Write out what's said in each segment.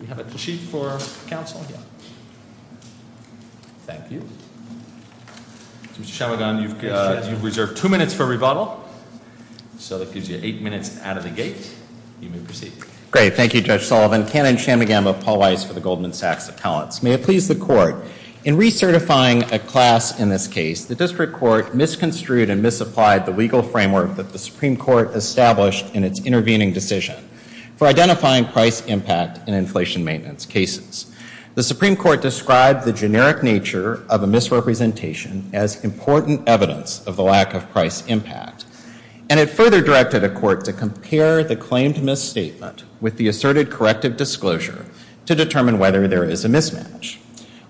We have a chief for counsel here, thank you. Mr. Chamagam, you've reserved two minutes for rebuttal. So that gives you eight minutes out of the gate. You may proceed. Great, thank you Judge Sullivan. My name is Cameron Chamagam of Paul Weitz for the Goldman Sachs Appellants. May it please the court, in recertifying a class in this case, the district court misconstrued and misapplied the legal framework that the Supreme Court established in its intervening decision. For identifying price impact in inflation maintenance cases. The Supreme Court described the generic nature of a misrepresentation as important evidence of the lack of price impact. And it further directed the court to compare the claim to misstatement with the asserted corrective disclosure to determine whether there is a mismatch.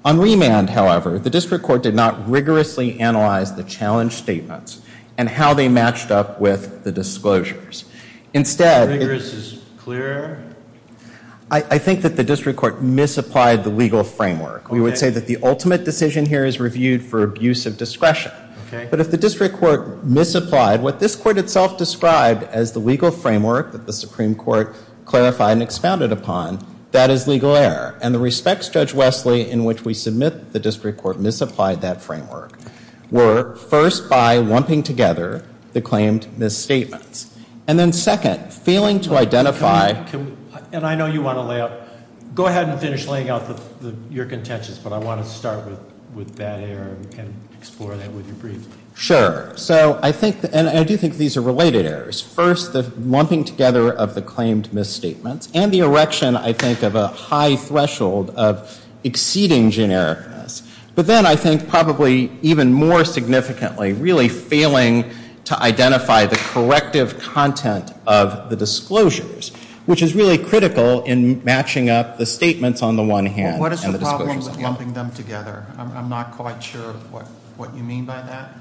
On remand, however, the district court did not rigorously analyze the challenge statements and how they matched up with the disclosures. Instead, I think that the district court misapplied the legal framework. We would say that the ultimate decision here is reviewed for abuse of discretion. But if the district court misapplied what this court itself described as the legal framework that the Supreme Court clarified and expounded upon, that is legal error. And the respects, Judge Wesley, in which we submit that the district court misapplied that framework were first by lumping together the claimed misstatements. And then second, failing to identify... And I know you want to lay out... Go ahead and finish laying out your contentions, but I want to start with that error and explore that with your brief. Sure. So I think, and I do think these are related errors. First, the lumping together of the claimed misstatements and the erection, I think, of a high threshold of exceeding genericness. But then I think probably even more significantly, really failing to identify the corrective content of the disclosures, which is really critical in matching up the statements on the one hand... What is the problem with lumping them together? I'm not quite sure what you mean by that.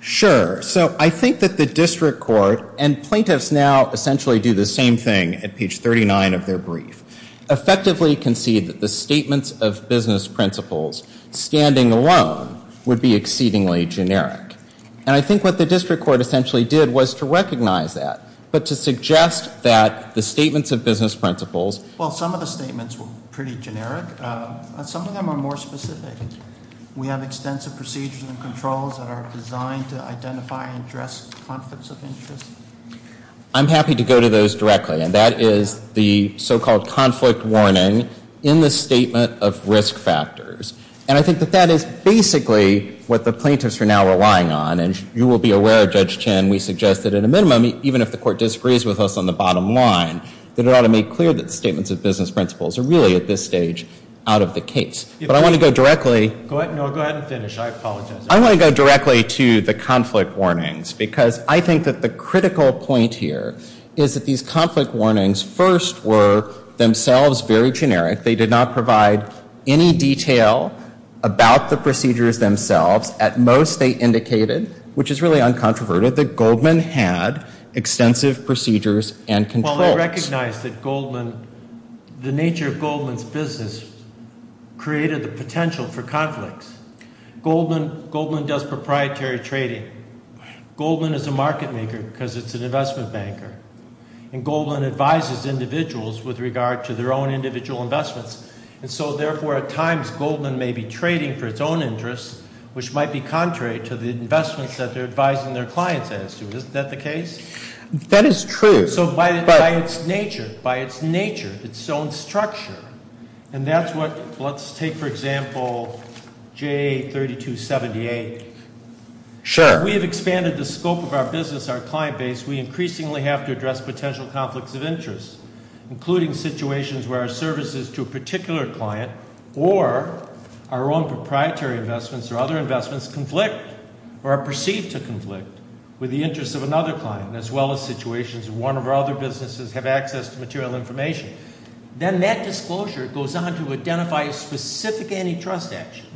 Sure. So I think that the district court, and plaintiffs now essentially do the same thing at page 39 of their brief, effectively concede that the statements of business principles standing alone would be exceedingly generic. And I think what the district court essentially did was to recognize that, but to suggest that the statements of business principles... Well, some of the statements were pretty generic, but some of them are more specific. We have extensive procedures and controls that are designed to identify and address conflicts of interest. I'm happy to go to those directly, and that is the so-called conflict warning in the statement of risk factors. And I think that that is basically what the plaintiffs are now relying on. And you will be aware, Judge Chin, we suggest that at a minimum, even if the court disagrees with us on the bottom line, that it ought to make clear that the statements of business principles are really at this stage out of the case. But I want to go directly... Go ahead and finish. I apologize. I want to go directly to the conflict warnings because I think that the critical point here is that these conflict warnings first were themselves very generic. They did not provide any detail about the procedures themselves. At most, they indicated, which is really uncontroverted, that Goldman had extensive procedures and controls. Well, I recognize that the nature of Goldman's business created the potential for conflicts. Goldman does proprietary trading. Goldman is a market maker because it's an investment banker. And Goldman advises individuals with regard to their own individual investments. And so, therefore, at times, Goldman may be trading for its own interests, which might be contrary to the investments that they're advising their clients as to. Is that the case? That is true. So by its nature, by its nature, its own structure, and that's what... let's take, for example, J3278. Sure. We have expanded the scope of our business, our client base. We increasingly have to address potential conflicts of interest, including situations where our services to a particular client or our own proprietary investments or other investments conflict or are perceived to conflict with the interests of another client as well as situations where one or other businesses have access to material information. Then that disclosure goes on to identify a specific antitrust action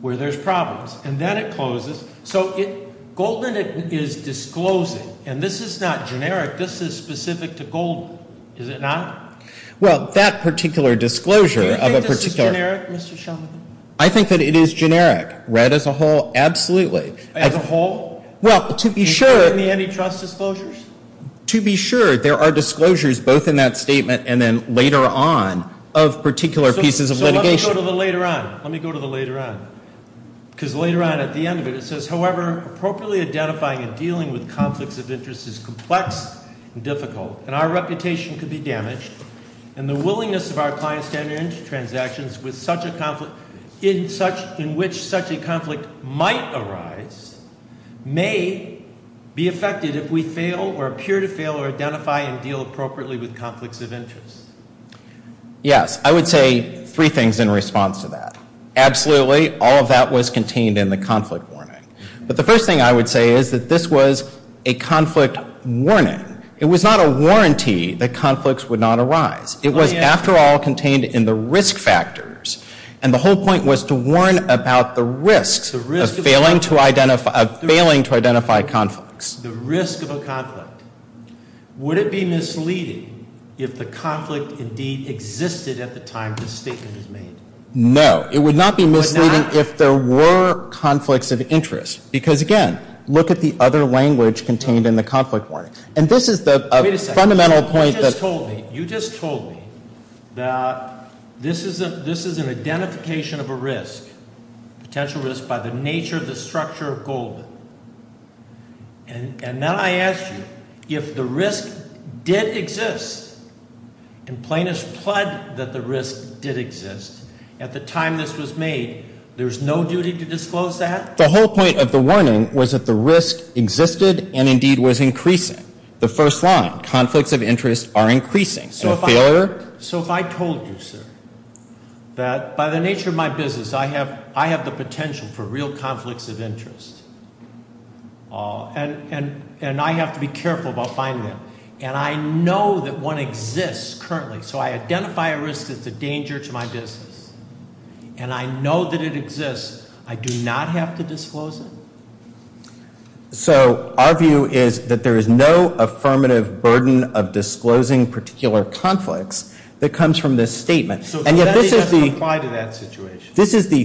where there's problems. And then it closes. So if Goldman is disclosing, and this is not generic, this is specific to Goldman. Is it not? Well, that particular disclosure of a particular... Do you think it's generic, Mr. Shumlin? I think that it is generic. Right as a whole, absolutely. As a whole? Well, to be sure... Do you have any antitrust disclosures? To be sure, there are disclosures both in that statement and then later on of particular pieces of litigation. So let's go to the later on. Let me go to the later on. Because later on at the end of it, it says, however, appropriately identifying and dealing with conflicts of interest is complex and difficult and our reputation could be damaged and the willingness of our clients to enter into transactions in which such a conflict might arise may be affected if we fail or appear to fail or identify and deal appropriately with conflicts of interest. Yes, I would say three things in response to that. Absolutely, all of that was contained in the conflict warning. But the first thing I would say is that this was a conflict warning. It was not a warranty that conflicts would not arise. It was, after all, contained in the risk factors and the whole point was to warn about the risk of failing to identify conflicts. The risk of a conflict. Would it be misleading if the conflict indeed existed at the time this statement was made? No. It would not be misleading if there were conflicts of interest. Because, again, look at the other language contained in the conflict warning. And this is the fundamental point. You just told me that this is an identification of a risk, potential risk by the nature of the structure of gold. And now I ask you, if the risk did exist, and plaintiffs pledged that the risk did exist at the time this was made, there is no duty to disclose that? The whole point of the warning was that the risk existed and indeed was increasing. The first line, conflicts of interest are increasing. So if I told you, sir, that by the nature of my business, I have the potential for real conflicts of interest, and I have to be careful about finding them, and I know that one exists currently, so I identify a risk that's a danger to my business, and I know that it exists, I do not have to disclose it? So our view is that there is no affirmative burden of disclosing particular conflicts that comes from this statement. And yet this is the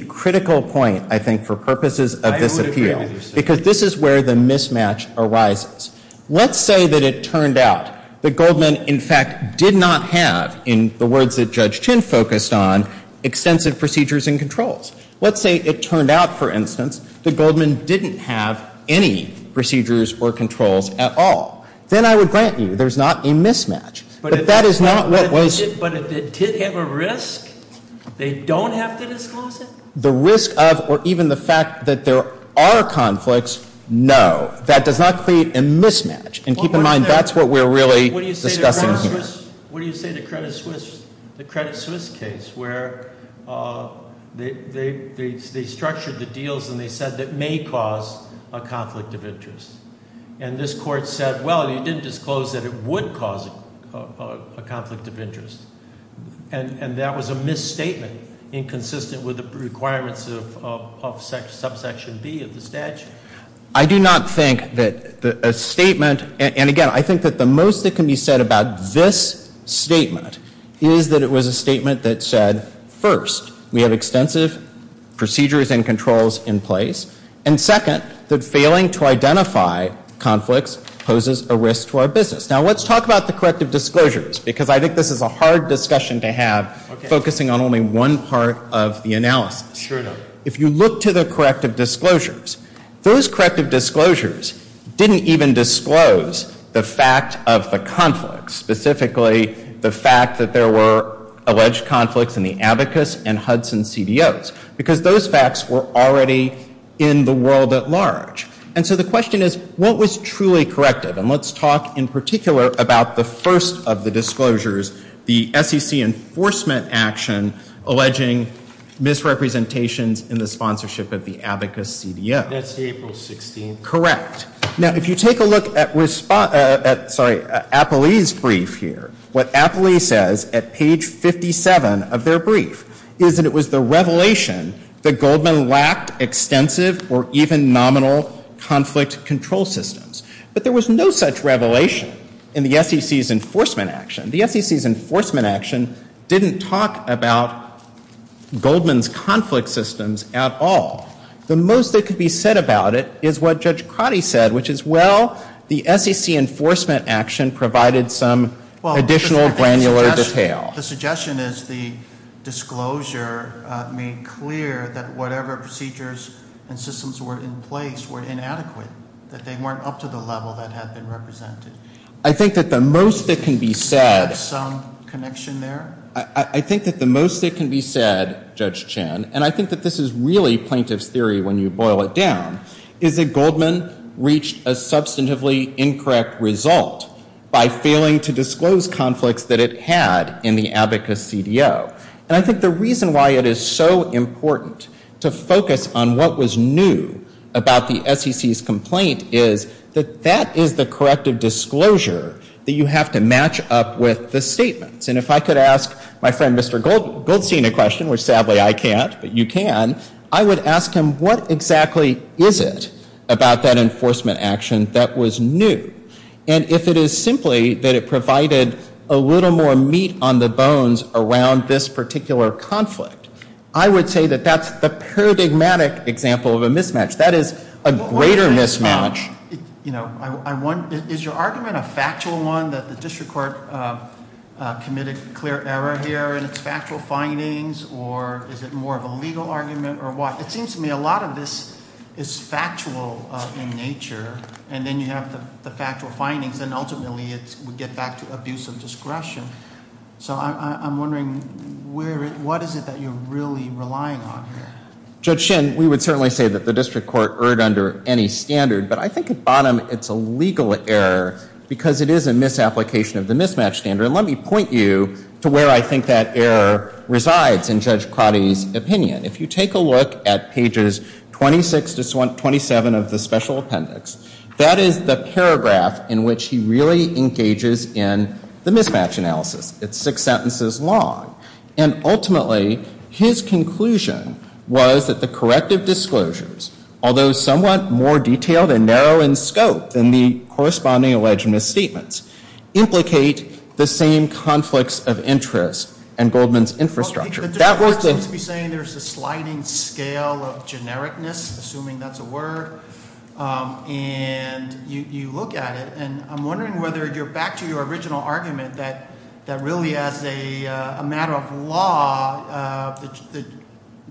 critical point, I think, for purposes of this appeal. Because this is where the mismatch arises. Let's say that it turned out that Goldman, in fact, did not have, in the words that Judge Chin focused on, extensive procedures and controls. Let's say it turned out, for instance, that Goldman didn't have any procedures or controls at all. Then I would grant you there's not a mismatch. But that is not what was — But if the kid had a risk, they don't have to disclose it? The risk of, or even the fact that there are conflicts, no. That does not create a mismatch. And keep in mind, that's what we're really discussing here. What do you say to Credit Suisse? The Credit Suisse case where they structured the deals and they said it may cause a conflict of interest. And this Court said, well, you didn't disclose that it would cause a conflict of interest. And that was a misstatement, inconsistent with the requirements of Subsection B of the statute? I do not think that a statement — and again, I think that the most that can be said about this statement is that it was a statement that said, first, we have extensive procedures and controls in place, and second, that failing to identify conflicts poses a risk to our business. Now, let's talk about the corrective disclosures, because I think this is a hard discussion to have, focusing on only one part of the analysis. If you look to the corrective disclosures, those corrective disclosures didn't even disclose the fact of the conflict, specifically the fact that there were alleged conflicts in the Abacus and Hudson CBOs, because those facts were already in the world at large. And so the question is, what was truly corrective? And let's talk in particular about the first of the disclosures, the SEC enforcement action alleging misrepresentations in the sponsorship of the Abacus CBO. That's April 16th. Correct. Now, if you take a look at Apolli's brief here, what Apolli says at page 57 of their brief is that it was the revelation that Goldman lacked extensive or even nominal conflict control systems. But there was no such revelation in the SEC's enforcement action. The SEC's enforcement action didn't talk about Goldman's conflict systems at all. The most that could be said about it is what Judge Cotti said, which is, well, the SEC enforcement action provided some additional granular detail. The suggestion is the disclosure made clear that whatever procedures and systems were in place were inadequate, that they weren't up to the level that had been represented. I think that the most that can be said. Some connection there. I think that the most that can be said, Judge Chan, and I think that this is really plaintiff's theory when you boil it down, is that Goldman reached a substantively incorrect result by failing to disclose conflicts that it had in the Abacus CBO. And I think the reason why it is so important to focus on what was new about the SEC's complaint is that that is the corrective disclosure that you have to match up with the statements. And if I could ask my friend Mr. Goldstein a question, which sadly I can't, but you can, I would ask him what exactly is it about that enforcement action that was new. And if it is simply that it provided a little more meat on the bones around this particular conflict, I would say that that's a paradigmatic example of a mismatch. That is a greater mismatch. Is your argument a factual one that the district court committed a clear error here and it's factual findings or is it more of a legal argument or what? It seems to me a lot of this is factual in nature and then you have the factual findings and ultimately we get back to abuse of discretion. So I'm wondering what is it that you're really relying on here? Judge Shin, we would certainly say that the district court erred under any standard, but I think at the bottom it's a legal error because it is a misapplication of the mismatch standard. Let me point you to where I think that error resides in Judge Crowdy's opinion. If you take a look at pages 26 to 27 of the special appendix, that is the paragraph in which he really engages in the mismatch analysis. It's six sentences long. And ultimately his conclusion was that the corrective disclosures, although somewhat more detailed and narrow in scope than the corresponding alleging statements, implicate the same conflicts of interest in Goldman's infrastructure. There's a sliding scale of genericness, assuming that's a word, and you look at it and I'm wondering whether you're back to your original argument that really as a matter of law, the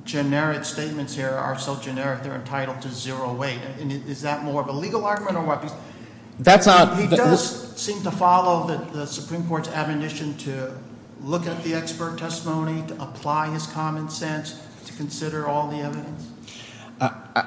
generic statements here are so generic they're entitled to zero weight. Is that more of a legal argument or what? He does seem to follow the Supreme Court's admonition to look at the expert testimony, to apply his common sense, to consider all the evidence.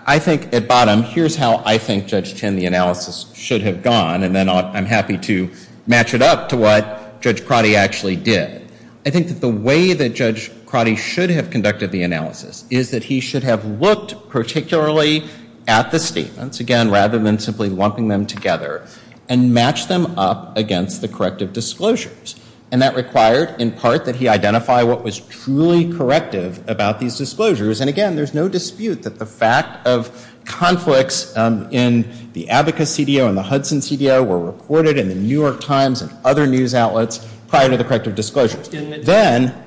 I think at bottom, here's how I think Judge Tinn the analysis should have gone, and then I'm happy to match it up to what Judge Crowdy actually did. I think that the way that Judge Crowdy should have conducted the analysis is that he should have looked particularly at the statements, again, rather than simply lumping them together, and matched them up against the corrective disclosures. And that required, in part, that he identify what was truly corrective about these disclosures. And again, there's no dispute that the fact of conflicts in the Abacus CDO and the Hudson CDO were recorded in the New York Times and other news outlets prior to the corrective disclosures. Then,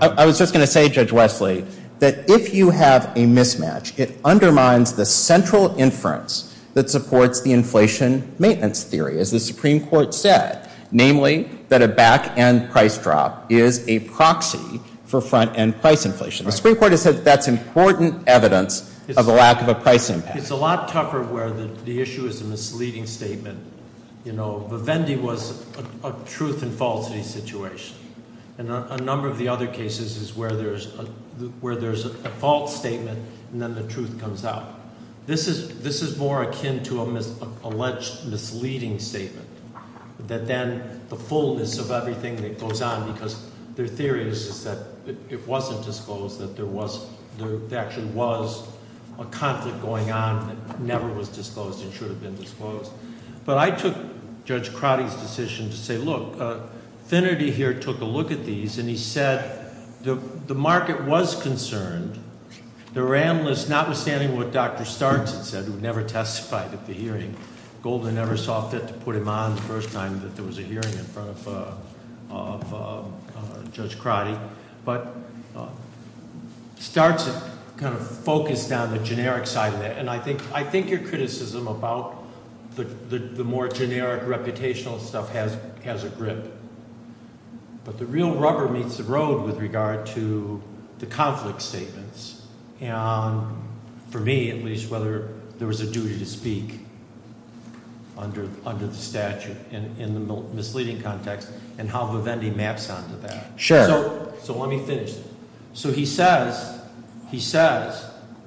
I was just going to say, Judge Wesley, that if you have a mismatch, it undermines the central inference that supports the inflation maintenance theory, as the Supreme Court said. Namely, that a back-end price drop is a proxy for front-end price inflation. The Supreme Court has said that's important evidence of the lack of a price impact. It's a lot tougher where the issue is the misleading statement. You know, Vendee was a truth and falsity situation. And a number of the other cases is where there's a false statement, and then the truth comes out. This is more akin to an alleged misleading statement. That then the fullness of everything that goes on, because their theory is that it wasn't disclosed, that there actually was a conflict going on that never was disclosed and should have been disclosed. But I took Judge Crotty's decision to say, look, Finnerty here took a look at these, and he said the market was concerned. The RAM list, notwithstanding what Dr. Starnes had said, who never testified at the hearing, Golden never saw fit to put him on the first time that there was a hearing in front of Judge Crotty. But Starnes kind of focused on the generic side of that. And I think your criticism about the more generic, reputational stuff has a grip. But the real rubber meets the road with regard to the conflict statements. For me, at least, whether there was a duty to speak under the statute in the misleading context, and how Vivendi maps onto that. So let me finish. So he says,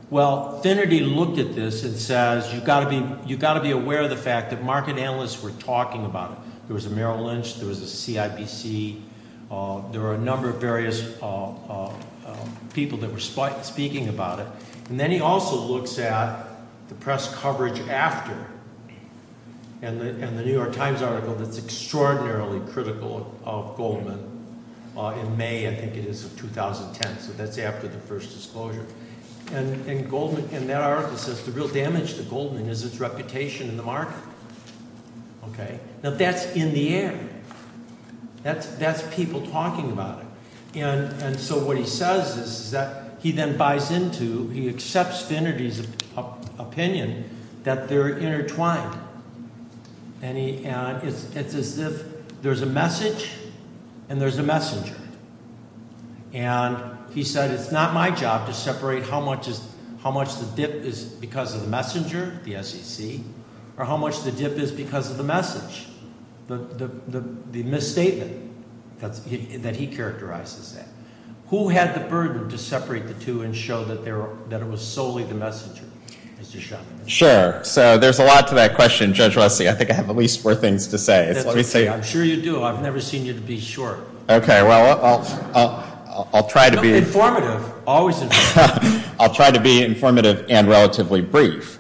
well, Finnerty looked at this and says, you've got to be aware of the fact that market analysts were talking about it. There was a Merrill Lynch, there was a CIBC, there were a number of various people that were speaking about it. And then he also looks at the press coverage after, and the New York Times article that's extraordinarily critical of Goldman, in May, I think it is, of 2010, so that's after the first disclosure. And that article says, the real damage to Goldman is its reputation in the market. Now that's in the air. That's people talking about it. And so what he says is that he then buys into, he accepts Finnerty's opinion that they're intertwined. And it's as if there's a message and there's a messenger. And he said, it's not my job to separate how much the dip is because of the messenger, the SEC, or how much the dip is because of the message, the misstatement that he characterized as that. Who had the burden to separate the two and show that it was solely the messenger? Sure. So there's a lot to that question, Judge Rossi. I think I have the least of things to say. I'm sure you do. I've never seen you to be short. Okay, well, I'll try to be... Always informative. I'll try to be informative and relatively brief.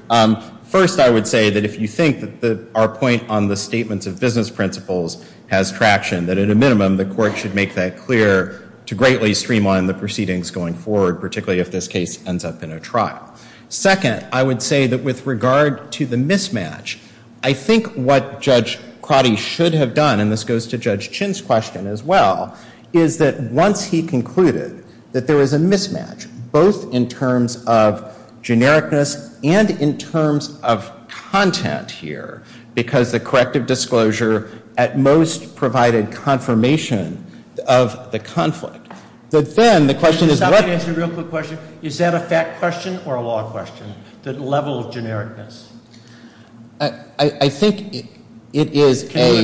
First, I would say that if you think that our point on the statements of business principles has traction, that at a minimum, the court should make that clear to greatly streamline the proceedings going forward, particularly if this case ends up in a trial. Second, I would say that with regard to the mismatch, I think what Judge Crotty should have done, and this goes to Judge Chin's question as well, is that once he concluded that there was a mismatch, both in terms of genericness and in terms of content here, because the corrective disclosure at most provided confirmation of the conflict, but then the question is... Can I ask you a real quick question? Is that a fact question or a law question, the level of genericness? I think it is a...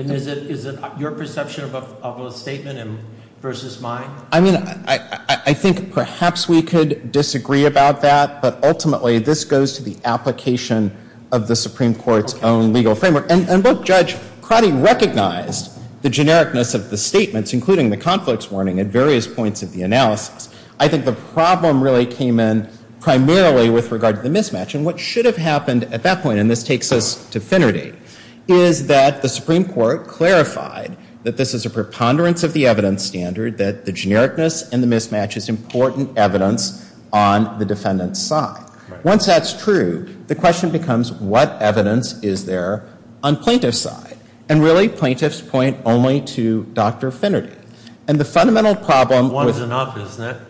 Is it your perception of a statement versus mine? I mean, I think perhaps we could disagree about that, but ultimately this goes to the application of the Supreme Court's own legal framework. And both Judge Crotty recognized the genericness of the statements, including the conflicts warning at various points of the analysis. I think the problem really came in primarily with regard to the mismatch. And what should have happened at that point, and this takes us to Finnerty, is that the Supreme Court clarified that this is a preponderance of the evidence standard, that the genericness and the mismatch is important evidence on the defendant's side. Once that's proved, the question becomes, what evidence is there on plaintiff's side? And really, plaintiffs point only to Dr. Finnerty. And the fundamental problem... One is enough, isn't it?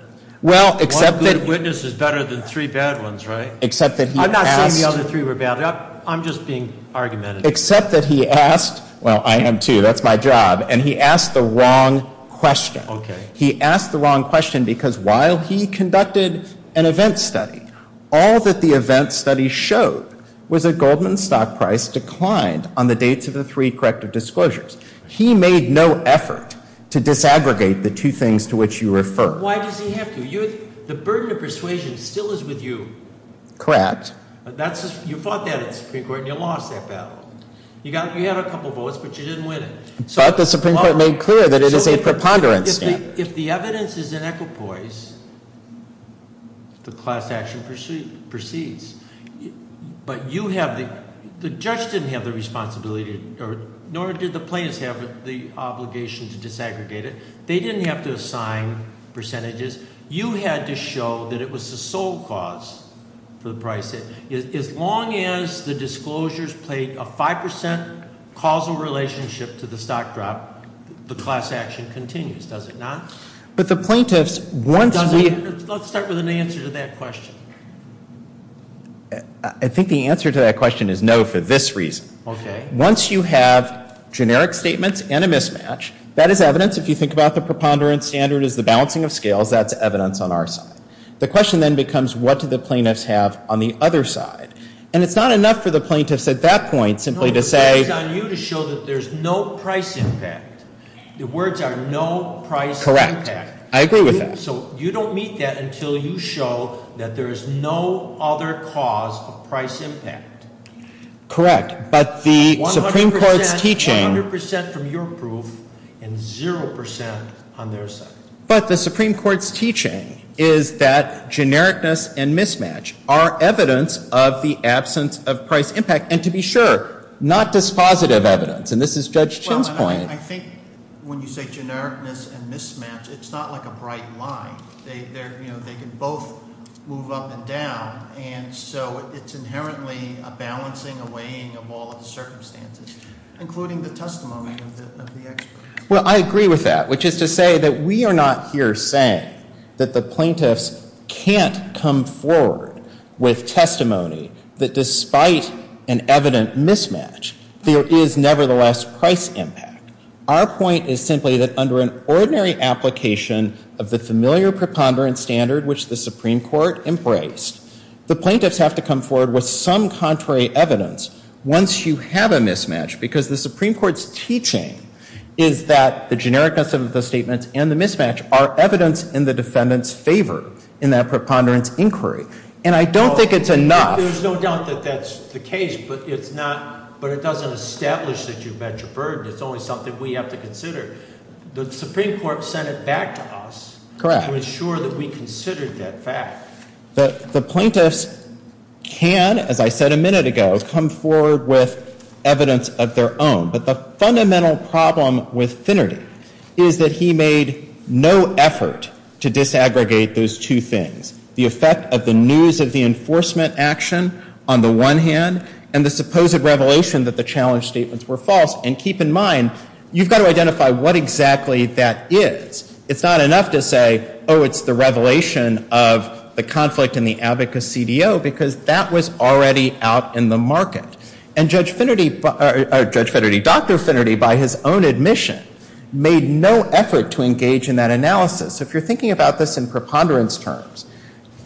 Well, except that... One good witness is better than three bad ones, right? Except that he has... I'm not saying the other three were bad. I'm just being argumentative. Except that he asked... Well, I am too. That's my job. And he asked the wrong question. Okay. He asked the wrong question because while he conducted an event study, all that the event study showed was that Goldman's stock price declined on the dates of the three corrective disclosures. He made no effort to disaggregate the two things to which you refer. Why does he have to? The burden of persuasion still is with you. Correct. You fought that Supreme Court and you lost that battle. You had a couple votes, but you didn't win it. But the Supreme Court made clear that it is a preponderance. If the evidence is in equipoise, the class action proceeds. But you have to... The judge didn't have the responsibility, nor did the plaintiffs have the obligation to disaggregate it. They didn't have to assign percentages. You had to show that it was the sole cause for the price. As long as the disclosures played a 5% causal relationship to the stock drop, the class action continues, does it not? But the plaintiffs... Let's start with an answer to that question. I think the answer to that question is no for this reason. Okay. Once you have generic statements and a mismatch, that is evidence. If you think about the preponderance standard as the balancing of scales, that is evidence on our side. The question then becomes, what do the plaintiffs have on the other side? And it's not enough for the plaintiffs at that point simply to say... No, the claim is on you to show that there is no price impact. The words are no price impact. Correct. I agree with that. So you don't meet that until you show that there is no other cause of price impact. Correct. But the Supreme Court's key chain... But the Supreme Court's key chain is that genericness and mismatch are evidence of the absence of price impact. And to be sure, not dispositive evidence. And this is Judge Chin's point. I think when you say genericness and mismatch, it's not like a bright line. They can both move up and down. And so it's inherently a balancing, a weighing of all of the circumstances, including the testimony of the experts. Well, I agree with that, which is to say that we are not here saying that the plaintiffs can't come forward with testimony that despite an evident mismatch, there is nevertheless price impact. Our point is simply that under an ordinary application of the familiar preponderance standard which the Supreme Court embraced, the plaintiffs have to come forward with some contrary evidence once you have a mismatch, because the Supreme Court's key chain is that the genericness of the statements and the mismatch are evidence in the defendant's favor in that preponderance inquiry. And I don't think it's enough... There's no doubt that that's the case, but it doesn't establish that you've met your burden. It's only something we have to consider. The Supreme Court sent it back to us to ensure that we considered that fact. The plaintiffs can, as I said a minute ago, come forward with evidence of their own. But the fundamental problem with Finnerty is that he made no effort to disaggregate those two things. The effect of the news of the enforcement action on the one hand, and the supposed revelation that the challenge statements were false. And keep in mind, you've got to identify what exactly that is. It's not enough to say, oh, it's the revelation of the conflict in the abacus CDO, because that was already out in the market. And Judge Finnerty, Dr. Finnerty, by his own admission, made no effort to engage in that analysis. If you're thinking about this in preponderance terms,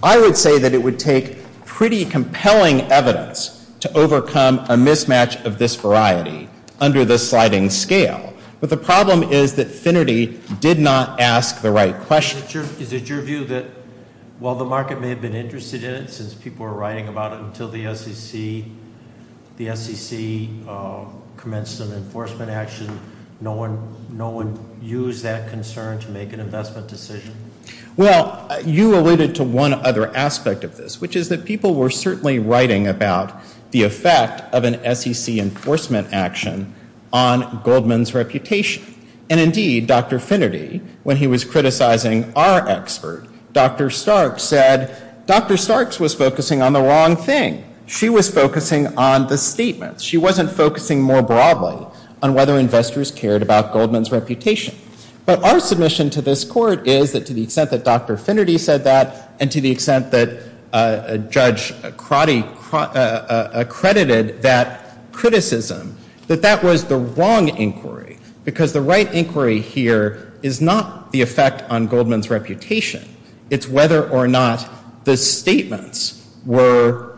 I would say that it would take pretty compelling evidence to overcome a mismatch of this variety under this sliding scale. But the problem is that Finnerty did not ask the right question. Is it your view that while the market may have been interested in it, since people were writing about it until the SEC commenced an enforcement action, no one used that concern to make an investment decision? Well, you alluded to one other aspect of this, which is that people were certainly writing about the effect of an SEC enforcement action on Goldman's reputation. And indeed, Dr. Finnerty, when he was criticizing our expert, Dr. Sarks said, Dr. Sarks was focusing on the wrong thing. She was focusing on the statement. She wasn't focusing more broadly on whether investors cared about Goldman's reputation. But our submission to this court is that to the extent that Dr. Finnerty said that and to the extent that Judge Crotty accredited that criticism, that that was the wrong inquiry. Because the right inquiry here is not the effect on Goldman's reputation. It's whether or not the statements were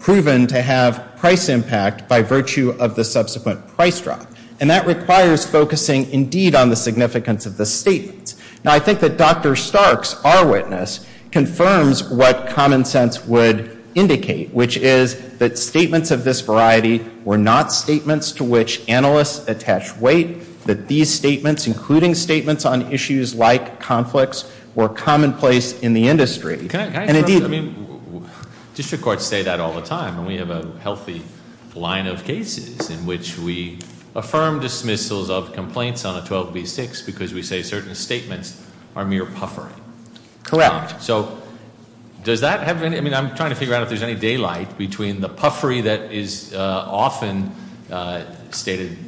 proven to have price impact by virtue of the subsequent price drop. And that requires focusing indeed on the significance of the statement. Now, I think that Dr. Sarks, our witness, confirms what common sense would indicate, which is that statements of this variety were not statements to which analysts attach weight, that these statements, including statements on issues like conflicts, were commonplace in the industry. District courts say that all the time. We have a healthy line of cases in which we affirm dismissals of complaints on a 12b6 because we say certain statements are mere puffery. Correct. So does that have any – I mean, I'm trying to figure out if there's any daylight between the puffery that is often stated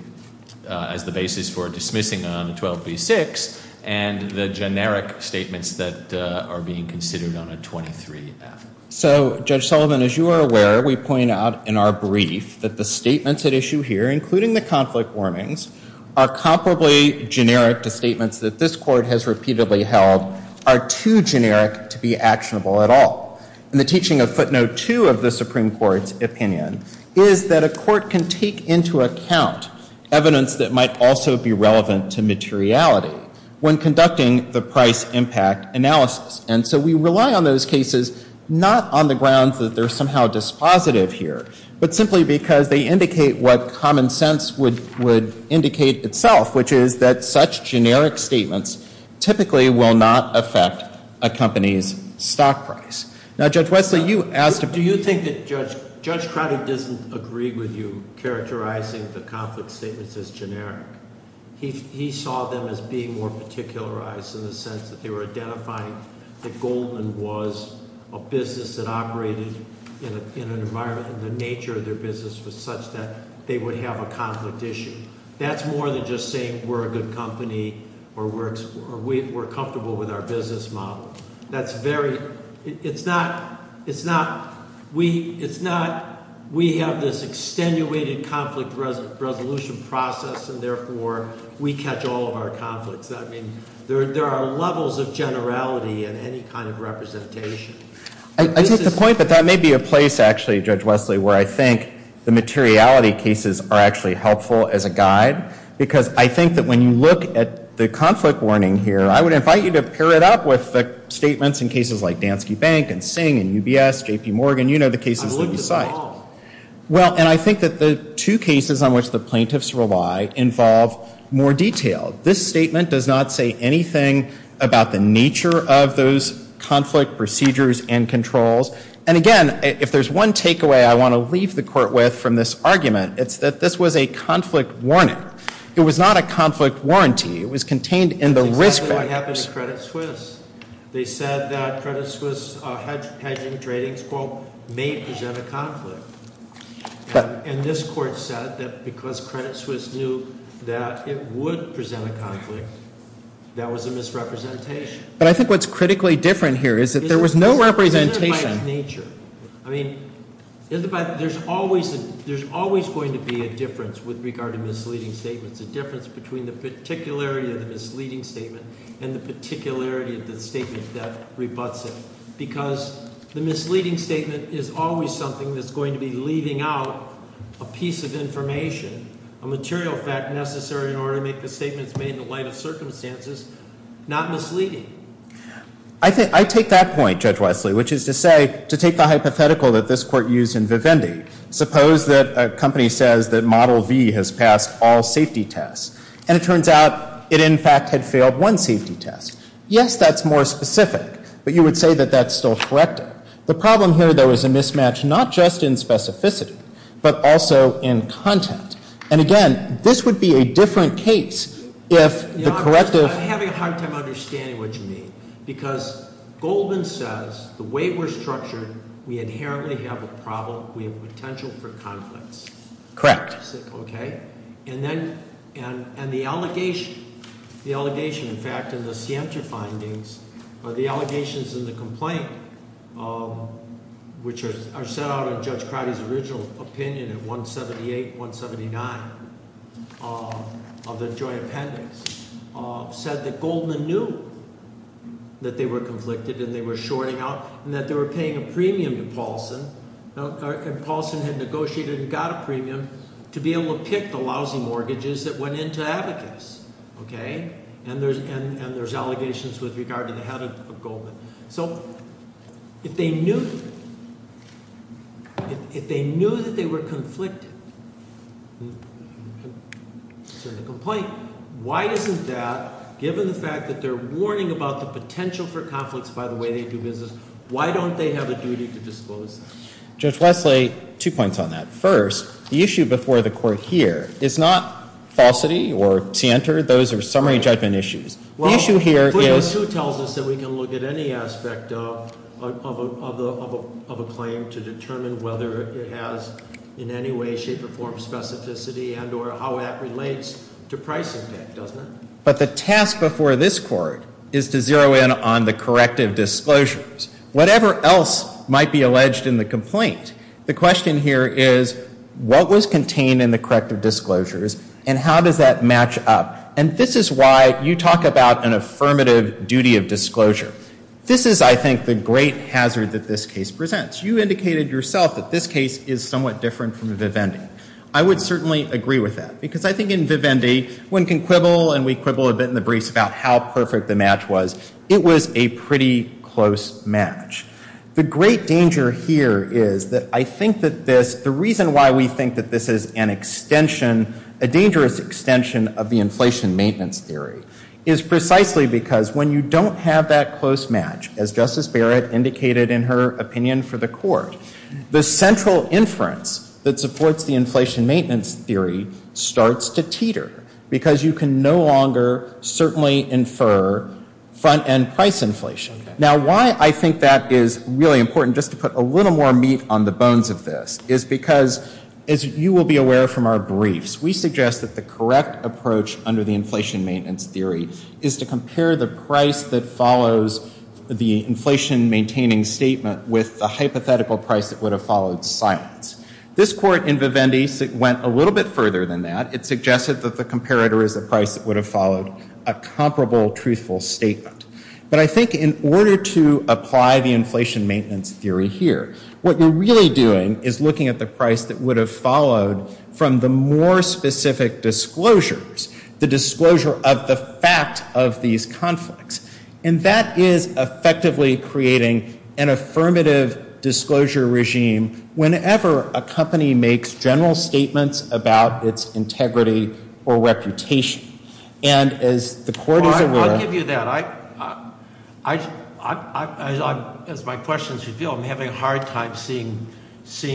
as the basis for dismissing on a 12b6 and the generic statements that are being considered on a 23b6. So, Judge Sullivan, as you are aware, we point out in our brief that the statements at issue here, including the conflict warnings, are comparably generic to statements that this court has repeatedly held are too generic to be actionable at all. And the teaching of footnote two of the Supreme Court's opinion is that a court can take into account evidence that might also be relevant to materiality when conducting the price impact analysis. And so we rely on those cases not on the grounds that they're somehow dispositive here, but simply because they indicate what common sense would indicate itself, which is that such generic statements typically will not affect a company's stock price. Now, Judge Wesley, you asked – Do you think that Judge Cronin didn't agree with you characterizing the conflict statements as generic? He saw them as being more particularized in the sense that they were identifying that Goldman was a business that operated in an environment where the nature of their business was such that they would have a conflict issue. That's more than just saying we're a good company or we're comfortable with our business model. That's very – it's not – we have this extenuated conflict resolution process, and therefore we catch all of our conflicts. I mean, there are levels of generality in any kind of representation. I think the point that that may be a place, actually, Judge Wesley, where I think the materiality cases are actually helpful as a guide, because I think that when you look at the conflict warning here, I would invite you to pair it up with the statements in cases like Dansky Bank and Singh and UBS, J.P. Morgan. You know the cases that you cite. I looked at them all. Well, and I think that the two cases on which the plaintiffs rely involve more detail. This statement does not say anything about the nature of those conflict procedures and controls. And again, if there's one takeaway I want to leave the court with from this argument, it's that this was a conflict warner. It was not a conflict warranty. It was contained in the risk – That's exactly what happened in Credit Suisse. They said that Credit Suisse hedging trading may present a conflict. And this court said that because Credit Suisse knew that it would present a conflict, that was a misrepresentation. But I think what's critically different here is that there was no representation. It's a matter of nature. I mean, there's always going to be a difference with regard to misleading statements, a difference between the particularity of the misleading statement and the particularity of the statement that rebutts it, because the misleading statement is always something that's going to be leaving out a piece of information, a material fact necessary in order to make the statement in the light of circumstances not misleading. I take that point, Judge Wesley, which is to say, to take the hypothetical that this court used in Vivendi, suppose that a company says that Model V has passed all safety tests, and it turns out it in fact had failed one safety test. Yes, that's more specific. But you would say that that's still corrective. The problem here, though, is a mismatch not just in specificity, but also in content. And again, this would be a different case if the corrective— I'm having a hard time understanding what you mean, because Goldman says the way we're structured, we inherently have a problem. We have potential for confidence. Correct. Okay? And the allegation, in fact, in the Siemje findings, the allegations in the complaint, which are set out in Judge Crowdy's original opinion of 178, 179 of the joint appendix, said that Goldman knew that they were conflicted and they were shoring up and that they were paying a premium to Paulson, and Paulson had negotiated and got a premium to be able to pick the lousy mortgages that went into Abacus. Okay? And there's allegations with regard to the head of Goldman. So, if they knew that they were conflicted, why isn't that, given the fact that they're worrying about the potential for conflicts by the way they do business, why don't they have a duty to dispose of it? Judge Lesley, two points on that. First, the issue before the court here is not falsity or tantor. Those are summary judgment issues. The issue here is— Well, Clause 2 tells us that we can look at any aspect of a claim to determine whether it has in any way, shape, or form specificity and or how that relates to price impact, doesn't it? But the task before this court is to zero in on the corrective disclosures. Whatever else might be alleged in the complaint, the question here is what was contained in the corrective disclosures and how does that match up? And this is why you talk about an affirmative duty of disclosure. This is, I think, the great hazard that this case presents. You indicated yourself that this case is somewhat different from the Vivendi. I would certainly agree with that because I think in Vivendi, one can quibble and we quibble a bit in the brief about how perfect the match was. It was a pretty close match. The great danger here is that I think that this— the reason why we think that this is an extension, a dangerous extension of the inflation maintenance theory is precisely because when you don't have that close match, as Justice Barrett indicated in her opinion for the court, the central inference that supports the inflation maintenance theory starts to teeter because you can no longer certainly infer front-end price inflation. Now, why I think that is really important, just to put a little more meat on the bones of this, is because, as you will be aware from our briefs, we suggest that the correct approach under the inflation maintenance theory is to compare the price that follows the inflation-maintaining statement with the hypothetical price that would have followed silence. This court in Vivendi went a little bit further than that. It suggested that the comparator is the price that would have followed a comparable truthful statement. But I think in order to apply the inflation maintenance theory here, what we're really doing is looking at the price that would have followed from the more specific disclosures, the disclosure of the fact of these conflicts. And that is effectively creating an affirmative disclosure regime whenever a company makes general statements about its integrity or reputation. I'll give you that. As my questions reveal, I'm having a hard time seeing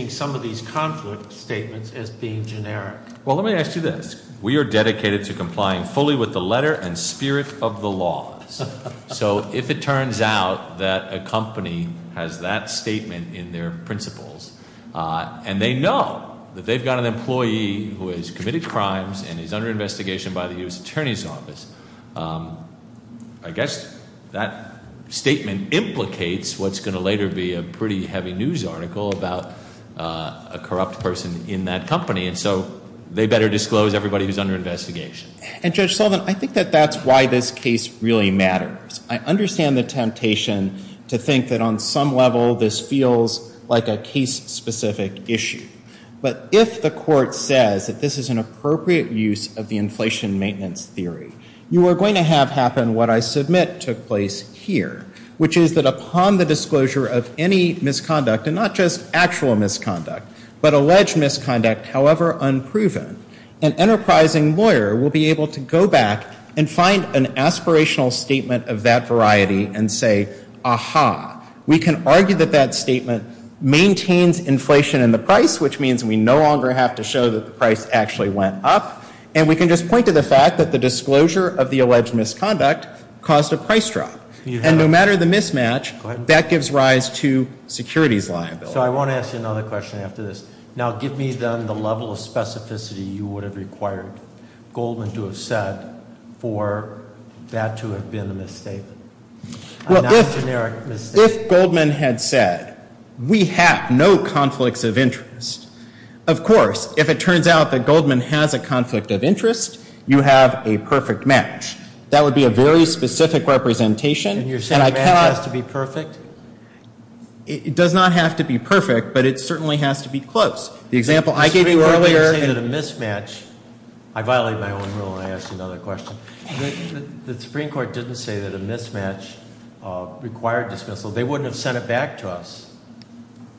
some of these conflict statements as being generic. Well, let me ask you this. We are dedicated to complying fully with the letter and spirit of the law. So if it turns out that a company has that statement in their principles and they know that they've got an employee who has committed crimes and is under investigation by the U.S. Attorney's Office, I guess that statement implicates what's going to later be a pretty heavy news article about a corrupt person in that company. And so they better disclose everybody who's under investigation. And, Judge Sullivan, I think that that's why this case really matters. I understand the temptation to think that on some level this feels like a case-specific issue. But if the court says that this is an appropriate use of the inflation maintenance theory, you are going to have happen what I submit took place here, which is that upon the disclosure of any misconduct, and not just actual misconduct, but alleged misconduct, however unproven, an enterprising lawyer will be able to go back and find an aspirational statement of that variety and say, We can argue that that statement maintains inflation in the price, which means we no longer have to show that the price actually went up. And we can just point to the fact that the disclosure of the alleged misconduct caused the price drop. And no matter the mismatch, that gives rise to securities liability. So I want to ask you another question after this. Now give me, then, the level of specificity you would have required Goldman to have said for that to have been a mistake. Well, this Goldman had said, We have no conflicts of interest. Of course, if it turns out that Goldman has a conflict of interest, you have a perfect match. That would be a very specific representation. And you're saying that has to be perfect? It does not have to be perfect, but it certainly has to be close. The example I gave you earlier... The Supreme Court didn't say that a mismatch... I violated my own rule, and I asked another question. The Supreme Court didn't say that a mismatch required disclosure. They wouldn't have sent it back to us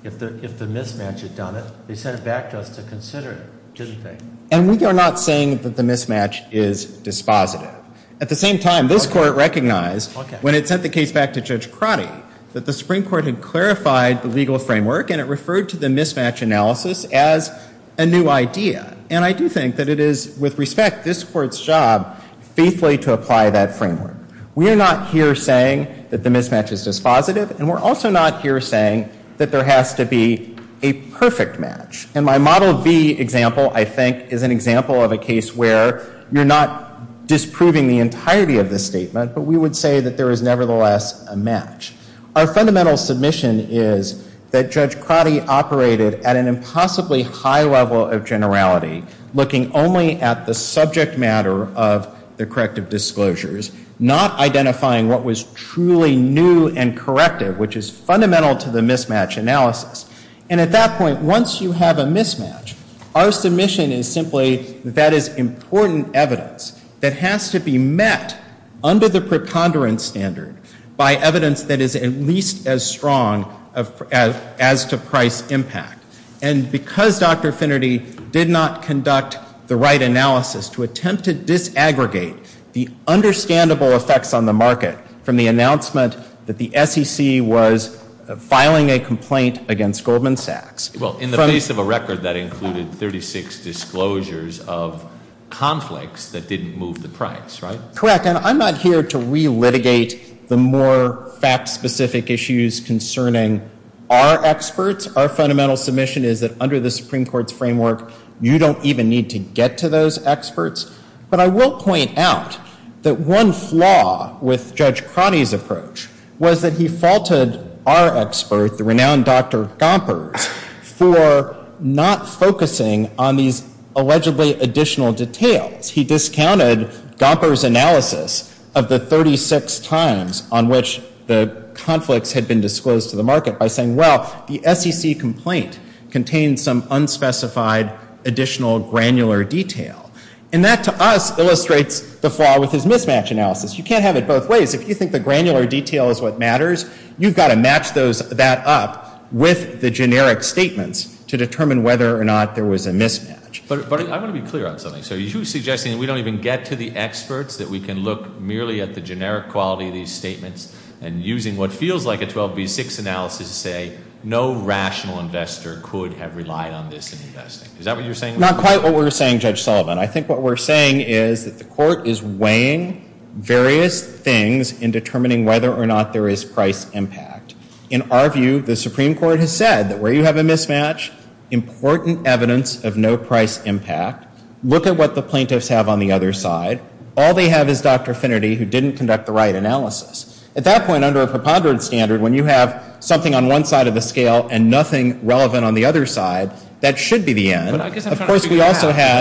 if the mismatch had done it. They sent it back to us to consider it, didn't they? And we are not saying that the mismatch is dispositive. At the same time, this Court recognized when it sent the case back to Judge Crotty that the Supreme Court had clarified the legal framework, and it referred to the mismatch analysis as a new idea. And I do think that it is, with respect, this Court's job faithfully to apply that framework. We are not here saying that the mismatch is dispositive, and we're also not here saying that there has to be a perfect match. And my Model V example, I think, is an example of a case where you're not disproving the entirety of the statement, but we would say that there is nevertheless a match. Our fundamental submission is that Judge Crotty operated at an impossibly high level of generality, looking only at the subject matter of the corrective disclosures, not identifying what was truly new and corrective, which is fundamental to the mismatch analysis. And at that point, once you have a mismatch, our submission is simply that that is important evidence that has to be met under the preponderance standard by evidence that is at least as strong as to price impact. And because Dr. Finnerty did not conduct the right analysis to attempt to disaggregate the understandable effects on the market from the announcement that the SEC was filing a complaint against Goldman Sachs... Well, in the base of a record that included 36 disclosures of conflicts that didn't move the price, right? Correct. And I'm not here to relitigate the more fact-specific issues concerning our experts. Our fundamental submission is that under the Supreme Court's framework, you don't even need to get to those experts. But I will point out that one flaw with Judge Crotty's approach was that he faulted our expert, the renowned Dr. Gomper, for not focusing on these allegedly additional details. He discounted Gomper's analysis of the 36 times on which the conflicts had been disclosed to the market by saying, well, the SEC complaint contains some unspecified additional granular detail. And that, to us, illustrates the flaw with his mismatch analysis. You can't have it both ways. If you think the granular detail is what matters, you've got to match that up with the generic statements to determine whether or not there was a mismatch. But I want to be clear on something, sir. Are you suggesting we don't even get to the experts, that we can look merely at the generic quality of these statements and using what feels like a 12B6 analysis to say, no rational investor could have relied on this investment? Is that what you're saying? Not quite what we're saying, Judge Sullivan. I think what we're saying is that the court is weighing various things in determining whether or not there is price impact. In our view, the Supreme Court has said that where you have a mismatch, important evidence of no price impact, look at what the plaintiffs have on the other side. All they have is Dr. Finnerty, who didn't conduct the right analysis. At that point, under a preponderance standard, when you have something on one side of the scale and nothing relevant on the other side, that should be the end. But I guess I'm trying to figure out,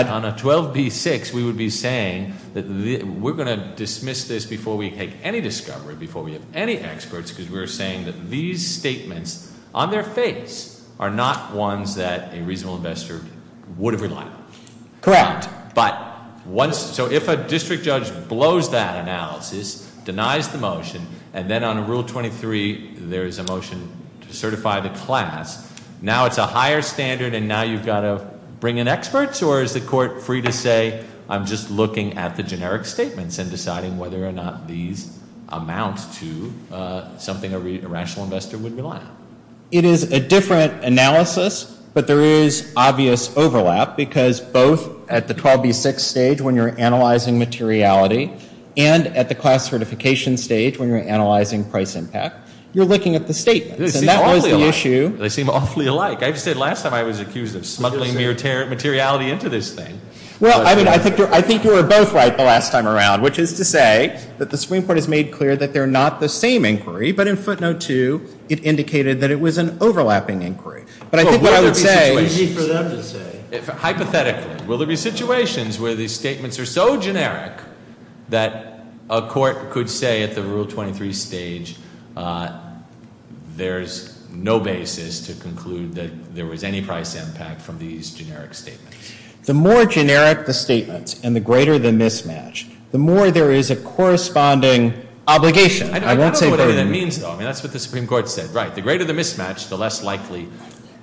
on a 12B6, we would be saying that we're going to dismiss this before we take any discovery, before we have any experts, because we're saying that these statements, on their face, are not ones that a reasonable investor would have relied on. Correct. So if a district judge blows that analysis, denies the motion, and then on Rule 23 there's a motion to certify the class, now it's a higher standard and now you've got to bring in experts? Or is the court free to say, I'm just looking at the generic statements and deciding whether or not these amount to something a rational investor would rely on? It is a different analysis, but there is obvious overlap because both at the 12B6 stage, when you're analyzing materiality, and at the class certification stage, when you're analyzing price impact, you're looking at the statements. They seem awfully alike. I just said last time I was accused of smuggling materiality into this thing. I think you were both right the last time around, which is to say that the Supreme Court has made clear that they're not the same inquiry, but in footnote 2 it indicated that it was an overlapping inquiry. But I think what I would say is hypothetically, will there be situations where these statements are so generic that a court could say at the Rule 23 stage there's no basis to conclude that there was any price impact from these generic statements? The more generic the statement and the greater the mismatch, the more there is a corresponding obligation. I don't know what any of that means, though. That's what the Supreme Court said. The greater the mismatch, the less likely...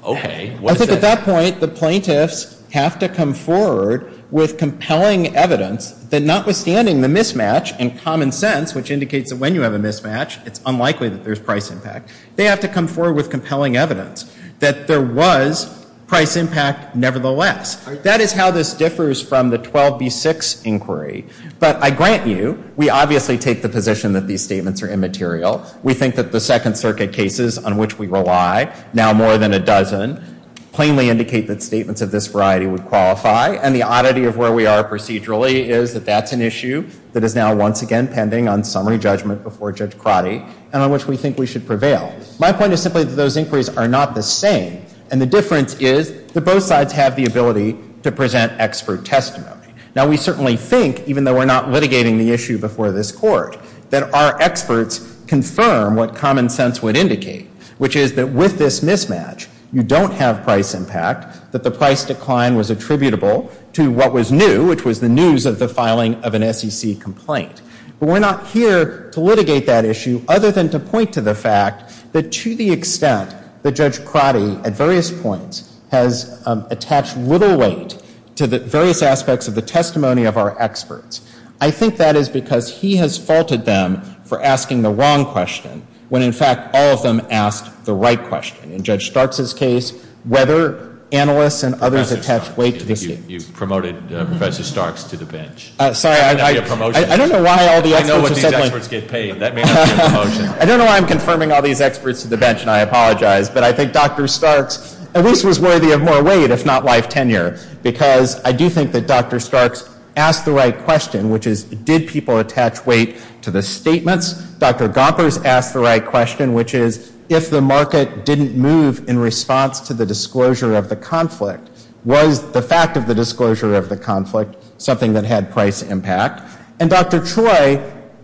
At that point, the plaintiffs have to come forward with compelling evidence that notwithstanding the mismatch and common sense, which indicates that when you have a mismatch, it's unlikely that there's price impact. They have to come forward with compelling evidence that there was price impact nevertheless. That is how this differs from the 12B6 inquiry. But I grant you, we obviously take the position that these statements are immaterial. We think that the Second Circuit cases on which we rely, now more than a dozen, plainly indicate that statements of this variety would qualify, and the oddity of where we are procedurally is that that's an issue that is now once again pending on summary judgment before Judge Crotty and on which we think we should prevail. My point is simply that those inquiries are not the same, and the difference is that both sides have the ability to present expert testimony. Now we certainly think, even though we're not litigating the issue before this Court, that our experts confirm what common sense would indicate, which is that with this mismatch, you don't have price impact, that the price decline was attributable to what was new, which was the news of the filing of an SEC complaint. But we're not here to litigate that issue other than to point to the fact that to the extent that Judge Crotty at various points has attached little weight to the various aspects of the testimony of our experts, I think that is because he has faulted them for asking the wrong question when, in fact, all of them asked the right question. In Judge Starks' case, whether analysts and others attached weight... You've promoted Professor Starks to the bench. Sorry, I don't know why all the experts... I know what these experts get paid. I don't know why I'm confirming all these experts to the bench, and I apologize, but I think Dr. Starks at least was worthy of more weight, if not life tenure, because I do think that Dr. Starks asked the right question, which is, did people attach weight to the statements? Dr. Gompers asked the right question, which is, if the market didn't move in response to the disclosure of the conflict, was the fact of the disclosure of the conflict something that had price impact? And Dr. Troy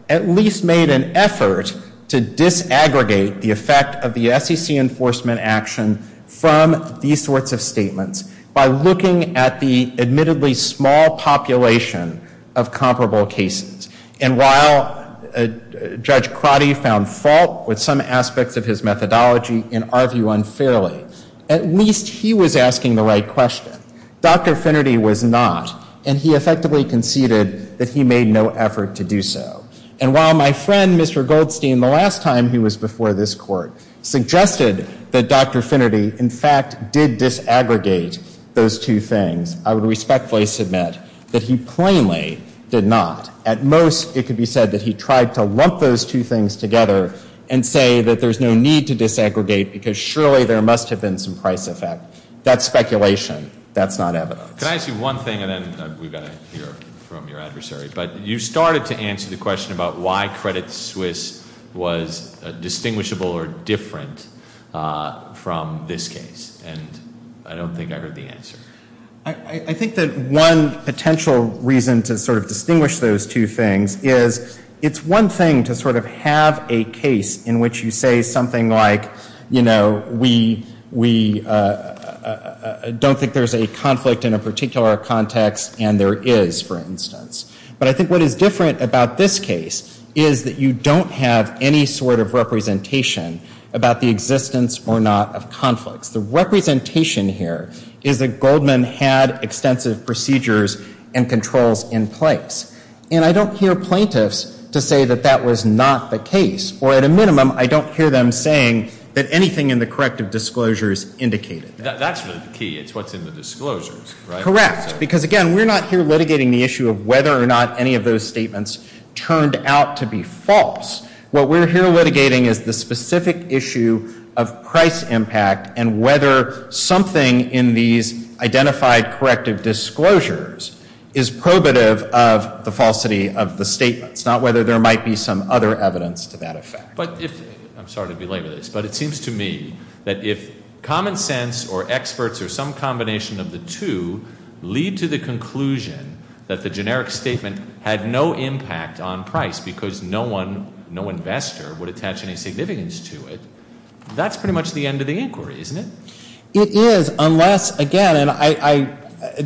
at least made an effort to disaggregate the effect of the SEC enforcement action from these sorts of statements by looking at the admittedly small population of comparable cases. And while Judge Crotty found fault with some aspects of his methodology and argued unfairly, at least he was asking the right question. Dr. Finnerty was not, and he effectively conceded that he made no effort to do so. And while my friend, Mr. Goldstein, the last time he was before this court, suggested that Dr. Finnerty in fact did disaggregate those two things, I would respectfully submit that he plainly did not. At most, it could be said that he tried to lump those two things together and say that there's no need to disaggregate because surely there must have been some price effect. That's speculation. That's not evidence. Can I ask you one thing, and then we've got to hear from your adversary, but you started to answer the question about why Credit Suisse was a distinguishable or different from this case, and I don't think I heard the answer. I think that one potential reason to sort of distinguish those two things is it's one thing to sort of have a case in which you say something like, you know, we don't think there's any conflict in a particular context, and there is, for instance. But I think what is different about this case is that you don't have any sort of representation about the existence or not of conflict. The representation here is that Goldman had extensive procedures and controls in place, and I don't hear plaintiffs to say that that was not the case, or at a minimum, I don't hear them saying that anything in the corrective disclosures indicated that. That's the key. It's what's in the disclosures, right? Correct, because again, we're not here litigating the issue of whether or not any of those statements turned out to be false. What we're here litigating is the specific issue of price impact and whether something in these identified corrective disclosures is probative of the falsity of the statement. It's not whether there might be some other evidence to that effect. I'm sorry to belabor this, but it seems to me that if common sense or experts or some combination of the two lead to the conclusion that the generic statement had no impact on price because no investor would attach any significance to it, that's pretty much the end of the inquiry, isn't it? It is, unless, again, and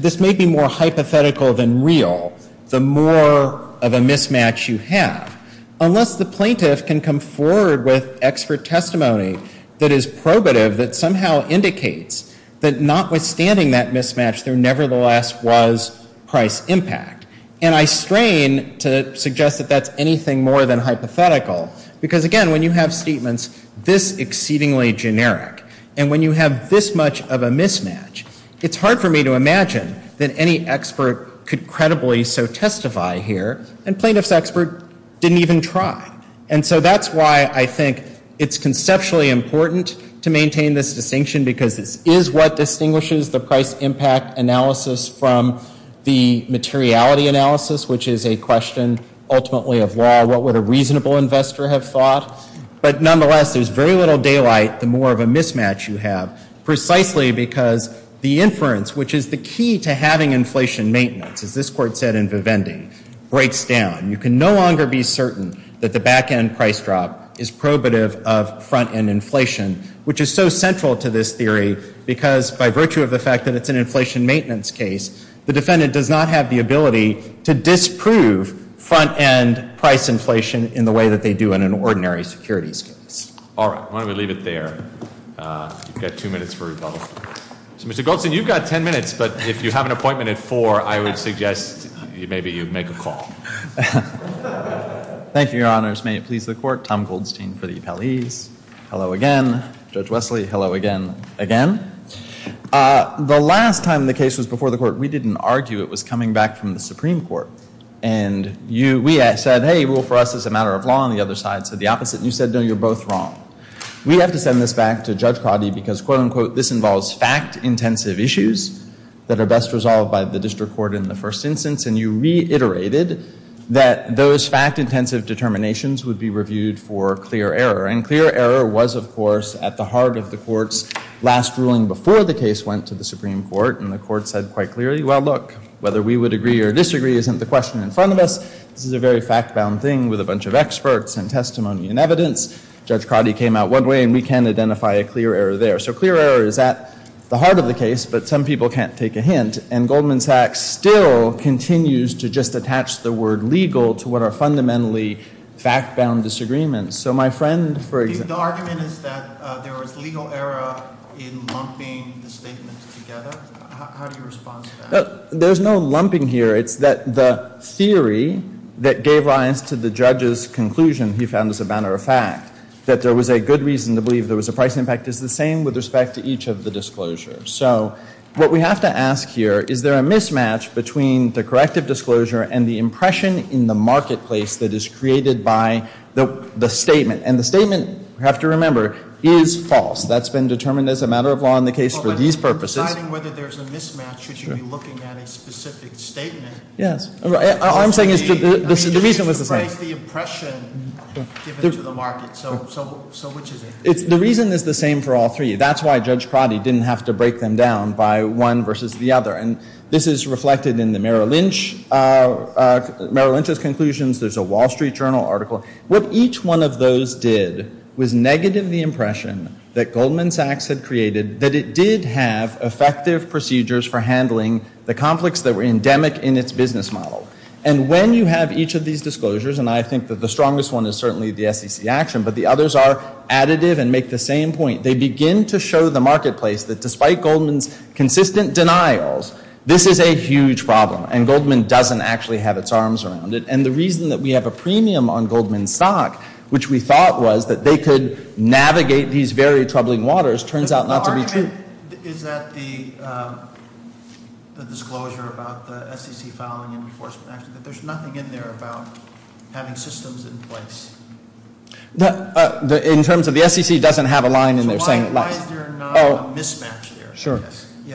this may be more hypothetical than real, the more of a mismatch you have. Unless the plaintiff can come forward with expert testimony that is probative, that somehow indicates that notwithstanding that mismatch, there nevertheless was price impact. And I strain to suggest that that's anything more than hypothetical because, again, when you have statements this exceedingly generic and when you have this much of a mismatch, it's hard for me to imagine that any expert could credibly so testify here and plaintiff's expert didn't even try. And so that's why I think it's conceptually important to maintain this distinction because it is what distinguishes the price impact analysis from the materiality analysis, which is a question ultimately of law. What would a reasonable investor have thought? But nonetheless, there's very little daylight the more of a mismatch you have precisely because the inference, which is the key to having inflation maintenance, as this court said in Vivendi, breaks down. You can no longer be certain that the back-end price drop is probative of front-end inflation, which is so central to this theory because by virtue of the fact that it's an inflation maintenance case, the defendant does not have the ability to disprove front-end price inflation in the way that they do in an ordinary securities case. All right. I'm going to leave it there. I've got two minutes for rebuttal. Mr. Goldstein, you've got ten minutes, but if you have an appointment at four, I would suggest maybe you make a call. Thank you, Your Honors. May it please the Court, Tom Goldstein, Hello again, Judge Wesley. Hello again, again. The last time the case was before the Court, we didn't argue it was coming back from the Supreme Court, and we had said, hey, rule for us is a matter of law, and the other side said the opposite, and you said, no, you're both wrong. We have to send this back to Judge Prady because, quote-unquote, this involves fact-intensive issues that are best resolved by the district court in the first instance, and you reiterated that those fact-intensive determinations would be reviewed for clear error, and clear error was, of course, at the heart of the Court's last ruling before the case went to the Supreme Court, and the Court said quite clearly, well, look, whether we would agree or disagree isn't the question in front of us. This is a very fact-bound thing with a bunch of experts and testimony and evidence. Judge Prady came out one way, and we can identify a clear error there. So clear error is at the heart of the case, but some people can't take a hint, and Goldman Sachs still continues to just attach the word legal to what are fundamentally fact-bound disagreements. So my friend... The argument is that there was legal error in lumping the statements together. How do you respond to that? There's no lumping here. It's that the theory that gave rise to the judge's conclusion, he found as a matter of fact, that there was a good reason to believe there was a price impact is the same with respect to each of the disclosures. So what we have to ask here, is there a mismatch between the corrective disclosure and the impression in the marketplace that is created by the statement? And the statement, you have to remember, is false. That's been determined as a matter of law in the case for these purposes. Well, if you're deciding whether there's a mismatch, should you be looking at a specific statement? Yes. All I'm saying is... Break the impression given to the market. So which is it? The reason is the same for all three. That's why Judge Prady didn't have to break them down by one versus the other. And this is reflected in the Merrill Lynch Merrill Lynch's conclusions. There's a Wall Street Journal article. What each one of those did was negative the impression that Goldman Sachs had created that it did have effective procedures for handling the conflicts that were endemic in its business model. And when you have each of these disclosures, and I think that the strongest one is certainly the SEC action, but the others are additive and make the same point. They begin to show the marketplace that despite Goldman's consistent denials, this is a huge problem. And Goldman doesn't actually have its arms around it. And the reason that we have a premium on Goldman Sachs, which we thought was that they could navigate these very troubling waters, turns out not to be true. Is that the disclosure about the SEC filing in the force plan? There's nothing in there about having systems in place. In terms of the SEC, it doesn't have a line in their second line. Why is there not a mismatch there?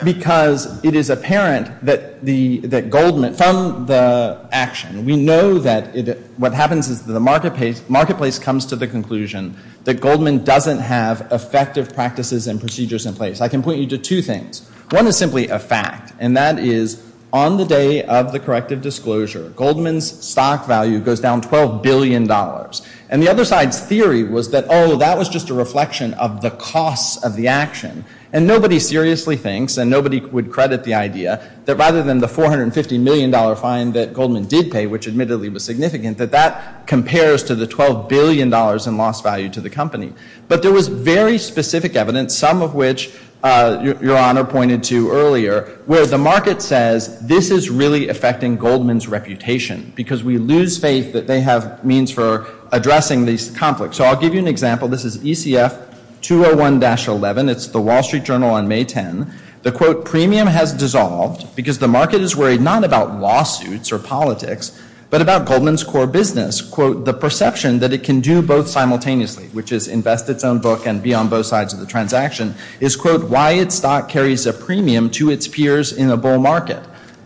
Because it is apparent that Goldman, from the action, we know that what happens is the marketplace comes to the conclusion that Goldman doesn't have effective practices and procedures in place. I can point you to two things. One is simply a fact, and that is on the day of the corrective disclosure, Goldman's stock value goes down $12 billion. And the other side's theory was that, oh, that was just a reflection of the cost of the action. And nobody seriously thinks, and nobody would credit the idea, that rather than the $450 million fine that Goldman did pay, which admittedly was significant, that that compares to the $12 billion in lost value to the company. But there was very specific evidence, some of which Your Honor pointed to earlier, where the market says, this is really affecting Goldman's reputation because we lose faith that they have means for addressing these conflicts. So I'll give you an example. This is ECF 201-11. It's the Wall Street Journal on May 10. The quote, premium has dissolved because the market is worried not about lawsuits or politics, but about Goldman's core business. Quote, the perception that it can do both simultaneously, which is invest its own book and be on both sides of the transaction, is quote, why its stock carries a premium to its peers in a bull market.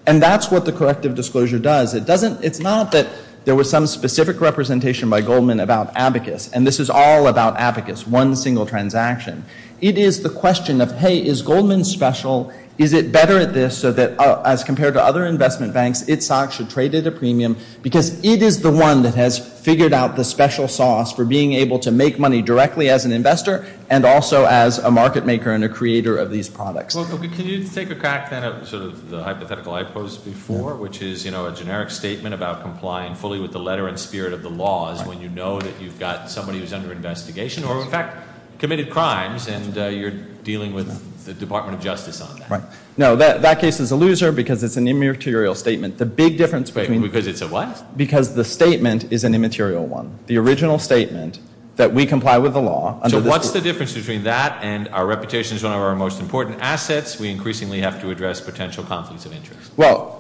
And that's what the corrective disclosure does. It doesn't, there was some specific representation by Goldman about abacus, and this is all about abacus, one single transaction. It is the question of, hey, is Goldman special? Is it better at this so that as compared to other investment banks, its stock should trade at a premium because it is the one that has figured out the special sauce for being able to make money directly as an investor and also as a market maker and a creator of these products. Well, can you take a fact to the hypothetical I posed before, which is, you know, a generic statement about complying fully with the letter and spirit of the law is when you know that you've got somebody who's under investigation or in fact committed crimes and you're dealing with the Department of Justice on that. Right. No, that case is a loser because it's an immaterial statement. The big difference between... Because it's a what? Because the statement is an immaterial one. The original statement that we comply with the law... So what's the difference between that and our reputation as one of our most important assets we increasingly have to address potential conflicts of interest? Well,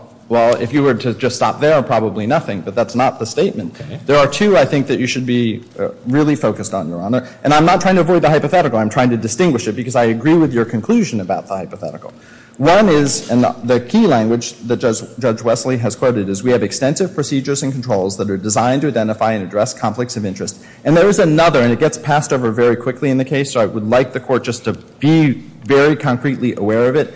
if you were to just stop there, probably nothing, but that's not the statement. There are two I think that you should be really focused on, Your Honor, and I'm not trying to avoid the hypothetical. I'm trying to distinguish it because I agree with your conclusion about the hypothetical. One is, and the key language that Judge Wesley has quoted, is we have extensive procedures and controls that are designed to identify and address conflicts of interest. And there is another, and it gets passed over very quickly in the case, so I would like the Court just to be very concretely aware of it.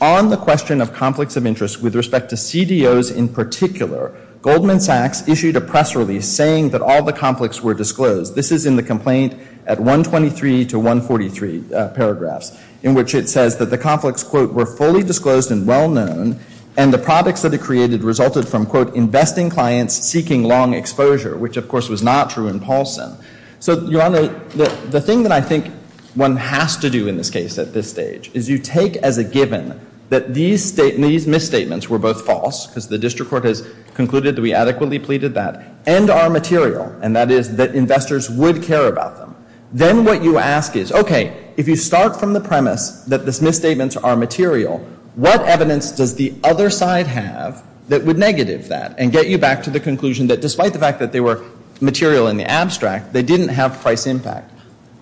On the question of conflicts of interest with respect to CDOs in particular, Goldman Sachs issued a press release saying that all the conflicts were disclosed. This is in the complaint at 123 to 143 paragraphs, in which it says that the conflicts were fully disclosed and well-known and the products that it created resulted from investing clients seeking long exposure, which of course was not true in Paulson. So, Your Honor, the thing that I think one has to do in this case at this stage is you take as a given that these misstatements were both false because the District Court has concluded that we adequately pleaded that, and are material, and that is that investors would care about them. Then what you ask is, okay, if you start from the premise that the misstatements are material, what evidence does the other side have that would negative that and get you back to the conclusion that despite the fact that they were material in the abstract, they didn't have price impact?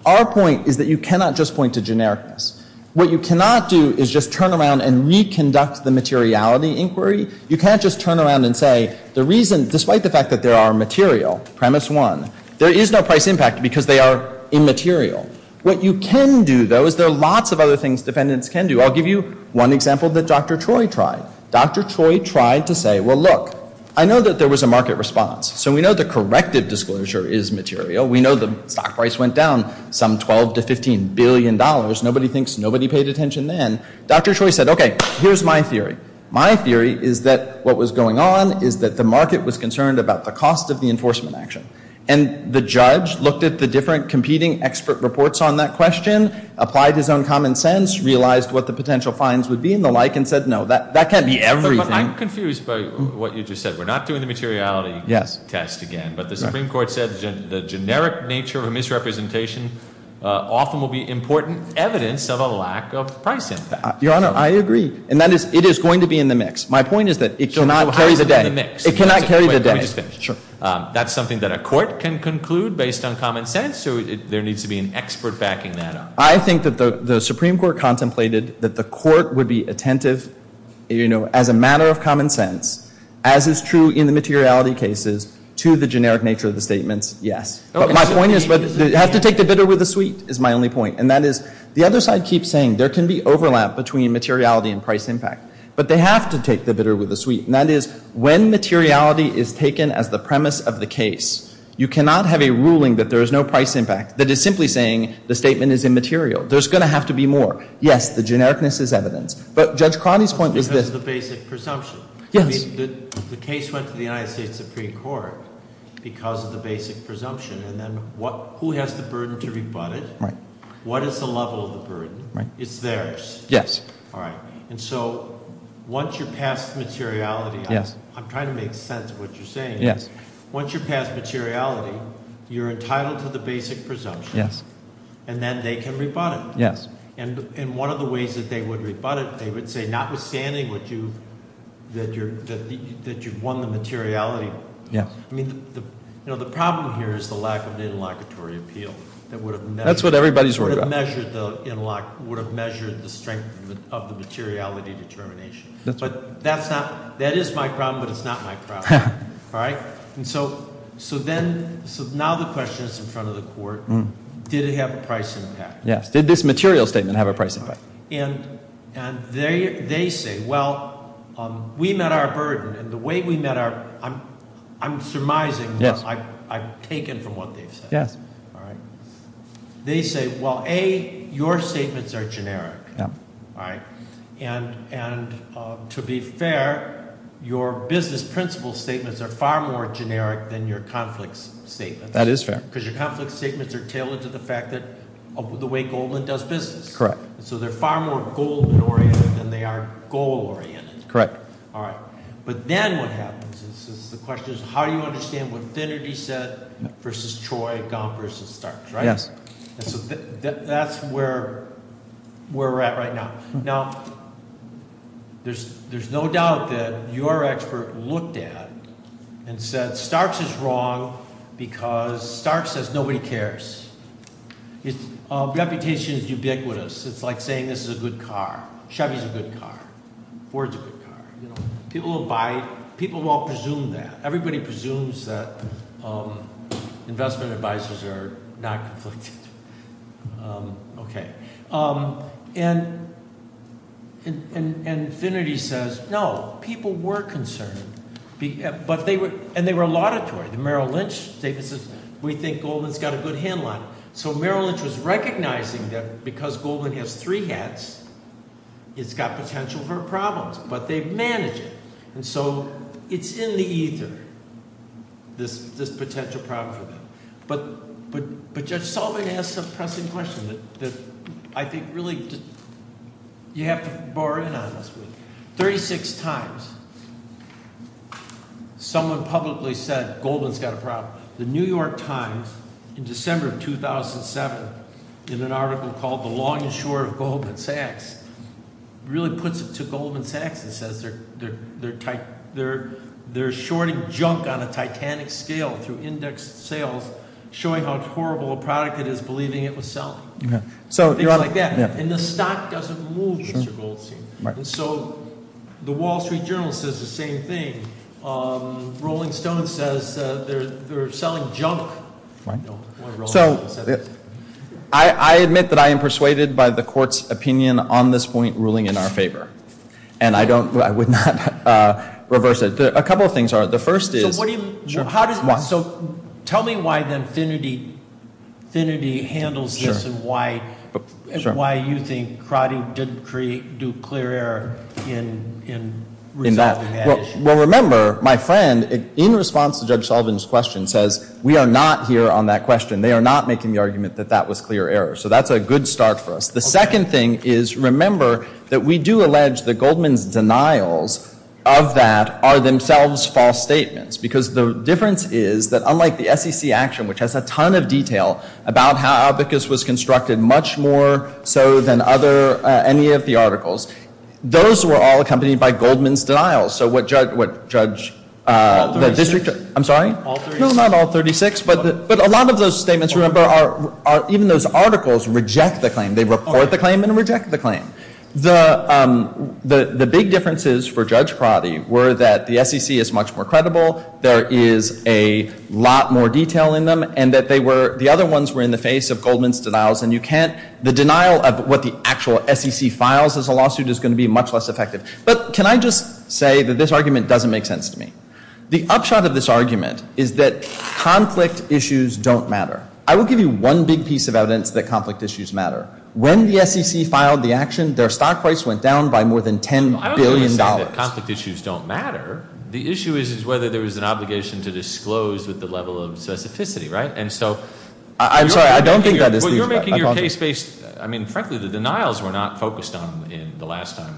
Our point is that you cannot just point to generics. What you cannot do is just turn around and reconduct the materiality inquiry. You can't just turn around and say the reason, despite the fact that there are material, premise one, there is no price impact because they are immaterial. What you can do, though, is there are lots of other things defendants can do. I'll give you one example that Dr. Troy tried. Dr. Troy tried to say, well, look, I know that there was a market response, so we know the corrective disclosure is material. We know the stock price went down some $12 to $15 billion. Nobody thinks, nobody paid attention then. Dr. Troy said, okay, here's my theory. My theory is that what was going on is that the market was concerned about the cost of the enforcement action, and the judge looked at the different competing expert reports on that question, applied his own common sense, realized what the potential fines would be, and the like, and said, no, that can't be everything. I'm confused by what you just said. We're not doing the materiality test again, but the Supreme Court said the generic nature of misrepresentation often will be important evidence of a lack of price impact. Your Honor, I agree, and it is going to be in the mix. My point is that it cannot carry the day. It cannot carry the day. That's something that a court can conclude based on common sense, or there needs to be an expert backing that up? I think that the Supreme Court contemplated that the court would be attentive as a matter of common sense, as is true in the materiality cases, to the generic nature of the statements, yes. But my point is that it has to take the bitter with the sweet is my only point, and that is, the other side keeps saying there can be overlap between materiality and price impact, but they have to take the bitter with the sweet, and that is, when materiality is taken as the premise of the case, you cannot have a ruling that there is no price impact, that is simply saying the statement is immaterial. There is going to have to be more. Yes, the generic-ness is evident, but Judge Cronin's point is this. Because of the basic presumption. Yes. I mean, the case went to the United States Supreme Court because of the basic presumption, and then who has the burden to rebut it? Right. What is the level of the burden? Right. It's theirs. Yes. All right. And so, once you pass materiality, I'm trying to make sense of what you're saying. Once you pass materiality, you're entitled to the basic presumption. Yes. And then they can rebut it. Yes. And one of the ways that they would rebut it, they would say, notwithstanding that you've won the materiality. Yes. I mean, the problem here is the lack of the interlocutory appeal. That's what everybody is worried about. That would have measured the strength of the materiality determination. But that's not, that is my problem, but it's not my problem. All right? And so, so then, so now the question is in front of the court, did it have a price impact? Yes. Did this material statement have a price impact? And, and they, they say, well, we met our burden, and the way we met our, I'm, I'm surmising, yes, I've, I've taken from what they've said. Yes. All right. They say, well, A, your statements are generic, right? And, and to be fair, your business principle statements are far more generic than your conflicts statements. That is fair. Because your conflicts statements are tailored to the fact that the way Goldman does business. Correct. So they're far more goal-oriented than they are goal-oriented. Correct. All right. But then what happens is, is the question is, how do you understand what Finnegan said versus Troy, Don versus Starks, right? Yes. And so that, that's where, where we're at right now. Now, there's, there's no doubt that your expert looked at and said, Starks is wrong because Starks says nobody cares. It's, reputation is ubiquitous. It's like saying this is a good car. Chevy's a good car. Ford's a good car. People will buy, people won't presume that. Everybody presumes that investment advices are not conflicted. Okay. And, and, and Finnegan says, no, people were concerned. But they were, and they were auditory. And Merrill Lynch says, we think Goldman's got a good headline. So Merrill Lynch was recognizing that because Goldman has three hats, it's got potential for problems. But they've managed it. And so, it's in the ether, this, this potential problem. But, but, but Judge Sullivan asked a pressing question that I think really, you have to borrow in on this. Thirty-six times someone publicly says Goldman's got a problem. The New York Times in December of 2007 did an article called The Longest Shore of Goldman Sachs. It really puts it to Goldman Sachs and says they're, they're, they're shorting junk on a stock. Things like that. And the stock doesn't move. So, the Wall Street Journal says the same thing. Rolling Stone says they're selling junk. So, I admit that I am persuaded by the court's opinion on this point ruling in our favor. And I don't, I would not reverse it. A couple of things are. The first is... So, tell me why the affinity handles this and why you think Crowder didn't do clear error in... Well, remember, my friend, in response to Judge Sullivan's question, says we are not here on that question. They are not making the argument that that was clear error. So, that's a good start for us. The second thing is, remember, that we do allege that Goldman's denials of that are themselves false statements. Because the difference is that unlike the SEC action, which has a ton of detail about how Abacus was constructed much more so than other... any of the those were all accompanied by Goldman's denials. So, what Judge... I'm sorry? All 36? No, not all 36, but a lot of those statements, even those articles, reject the claim. They report the claim and reject the claim. The big differences for the SEC the evidence Goldman's denials and you can't... The denial of what the actual SEC files is going to be much less effective. But can I just say that this argument doesn't make sense to me? The upshot of this argument is that conflict issues don't matter. The issue is whether there's an obligation to disclose the level of sensitivity. Frankly, the denials were not focused on the last time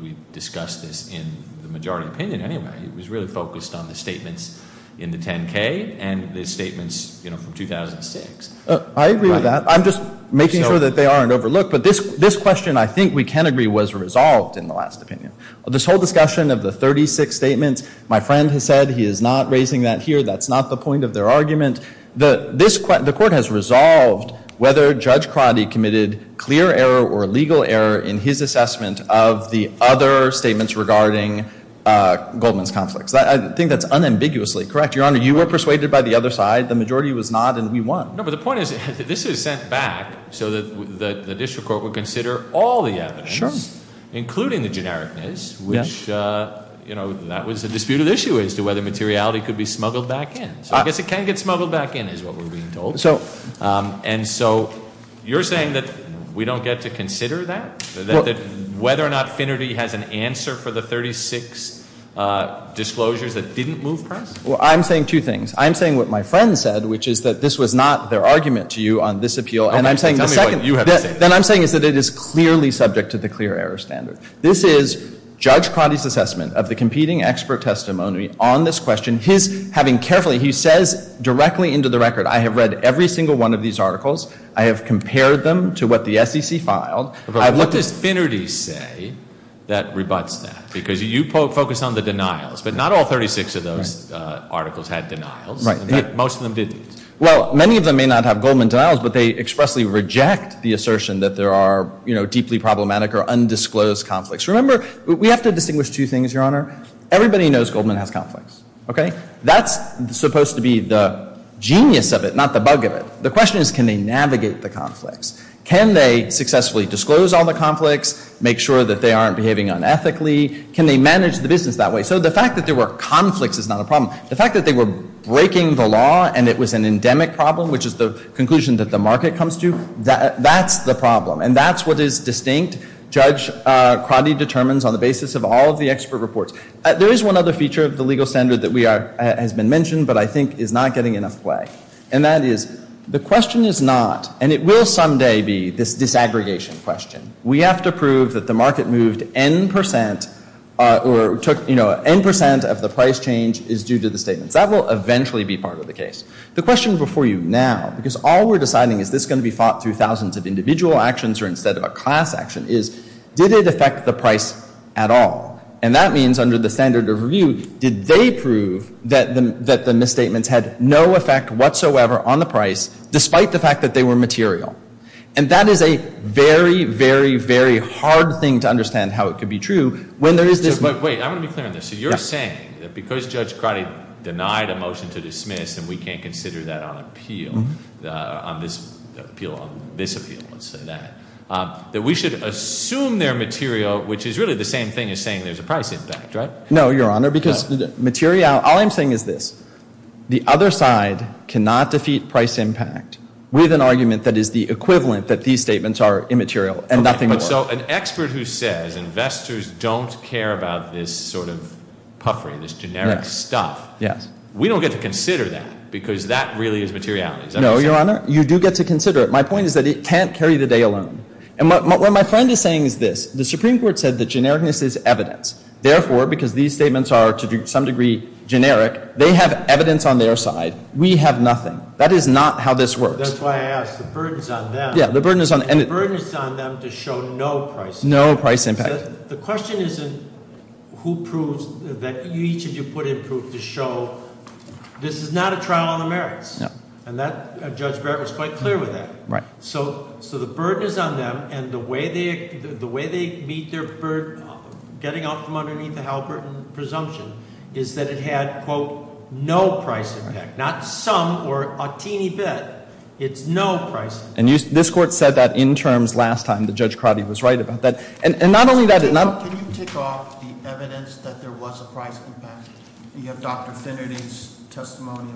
we discussed this in the majority opinion anyway. It was really focused on the statements in the 10-K and the statements from 2006. I agree with that. I'm just making sure that they aren't overlooked. But this question, I think we can agree, was resolved in the last opinion. This whole discussion of the 36 statements, my friend has said, he's not raising that here, that's not the point of their argument. The court has resolved whether Judge Quaddi committed clear error or legal error in his assessment of the other statements regarding Goldman's case, including the generic case, which was the dispute issue as to whether materiality could be smuggled back in. It can be smuggled back in. You're saying we don't get to consider that, whether Finnerty has an answer for the dispute has an answer for the dispute issue. That is clearly subject to the clear error standard. This is Judge Quaddi's assessment of the competing expert testimony on this question. He says directly into the record, I have read every single one of these articles, I have them to what the SEC filed. What does Finnerty say that rebuts that? Because you focus on the denials, but not all 36 of those articles have denials. Most of them didn't. Well, many of them may not have denials, but they expressly reject the assertion that there are deeply problematic or undisclosed conflicts. Everybody knows Goldman has conflicts. That's supposed to be the genius of it, not the bug of it. The question is can they navigate the conflicts? Can they successfully disclose the conflicts? Can they manage the business that way? The fact that they were breaking the rules of the market is the problem. There is one other feature of the legal standard that I think is not getting enough play. It will someday be disaggregation question. We have to prove that the price change is due to the statement. That will eventually be part of the case. The question now is did it affect the price at all? That means did they prove that the misstatements had no effect on the price despite the fact that they were misstatements? were misstatements, then we should assume their material, which is the same thing as saying there is a price impact. All I'm saying is this. The other side cannot defeat price impact with an argument that is the equivalent of these statements. An expert who says investors don't care about this generic stuff, we don't get to consider that. My point is it can't carry the day alone. The Supreme Court said the genericness is evidence. They have evidence on their side. We have nothing. That is not how this works. The burden is on them to show no price impact. The question is who proves that this is not a trial on the merits. The burden is on them and the way they meet their burden is that it had no price impact. Not some or bit. It is no price impact. Can you tick off the evidence that there was a price impact? Do you have Dr. Kennedy's testimony?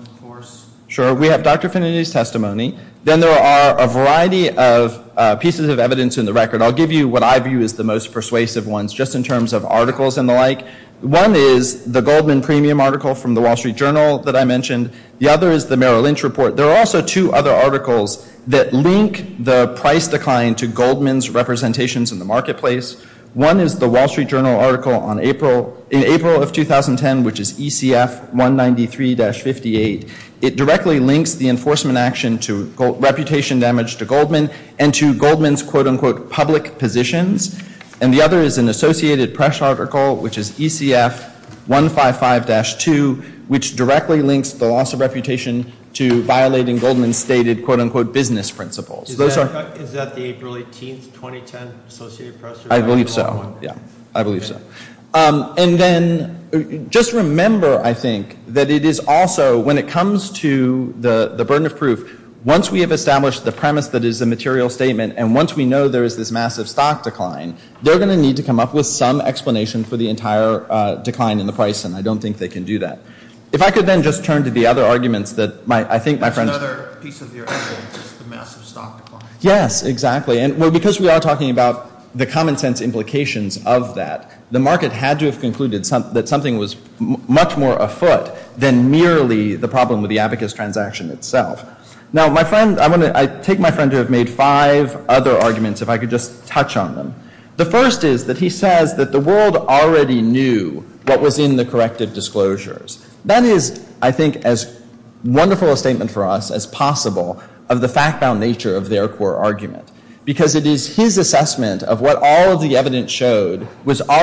There are a variety of pieces of evidence. I will give you the most persuasive ones. One is the Goldman article. The other is the Merrill Lynch report. There are two other articles that link the price decline to the marketplace. One is the Wall Street Journal article. directly links the enforcement action to reputation damage to Goldman and his public positions. The other is an associated press report. I believe so. Just remember, I think, that it is also when it comes to the burden of proof, once we have established the premise and once we know there is this massive stock decline, they will need to come up with some explanation for the entire decline in the price and I don't think they can do that. If I could then just turn to the other arguments that I think my friend... Yes, exactly. Because we are talking about the common sense that the market had to have concluded that something was much more afoot than merely the problem of the abacus transaction itself. I take my friend who made five other arguments if I could touch on that one you. Thank you. Thank you. Thank you. Thank you.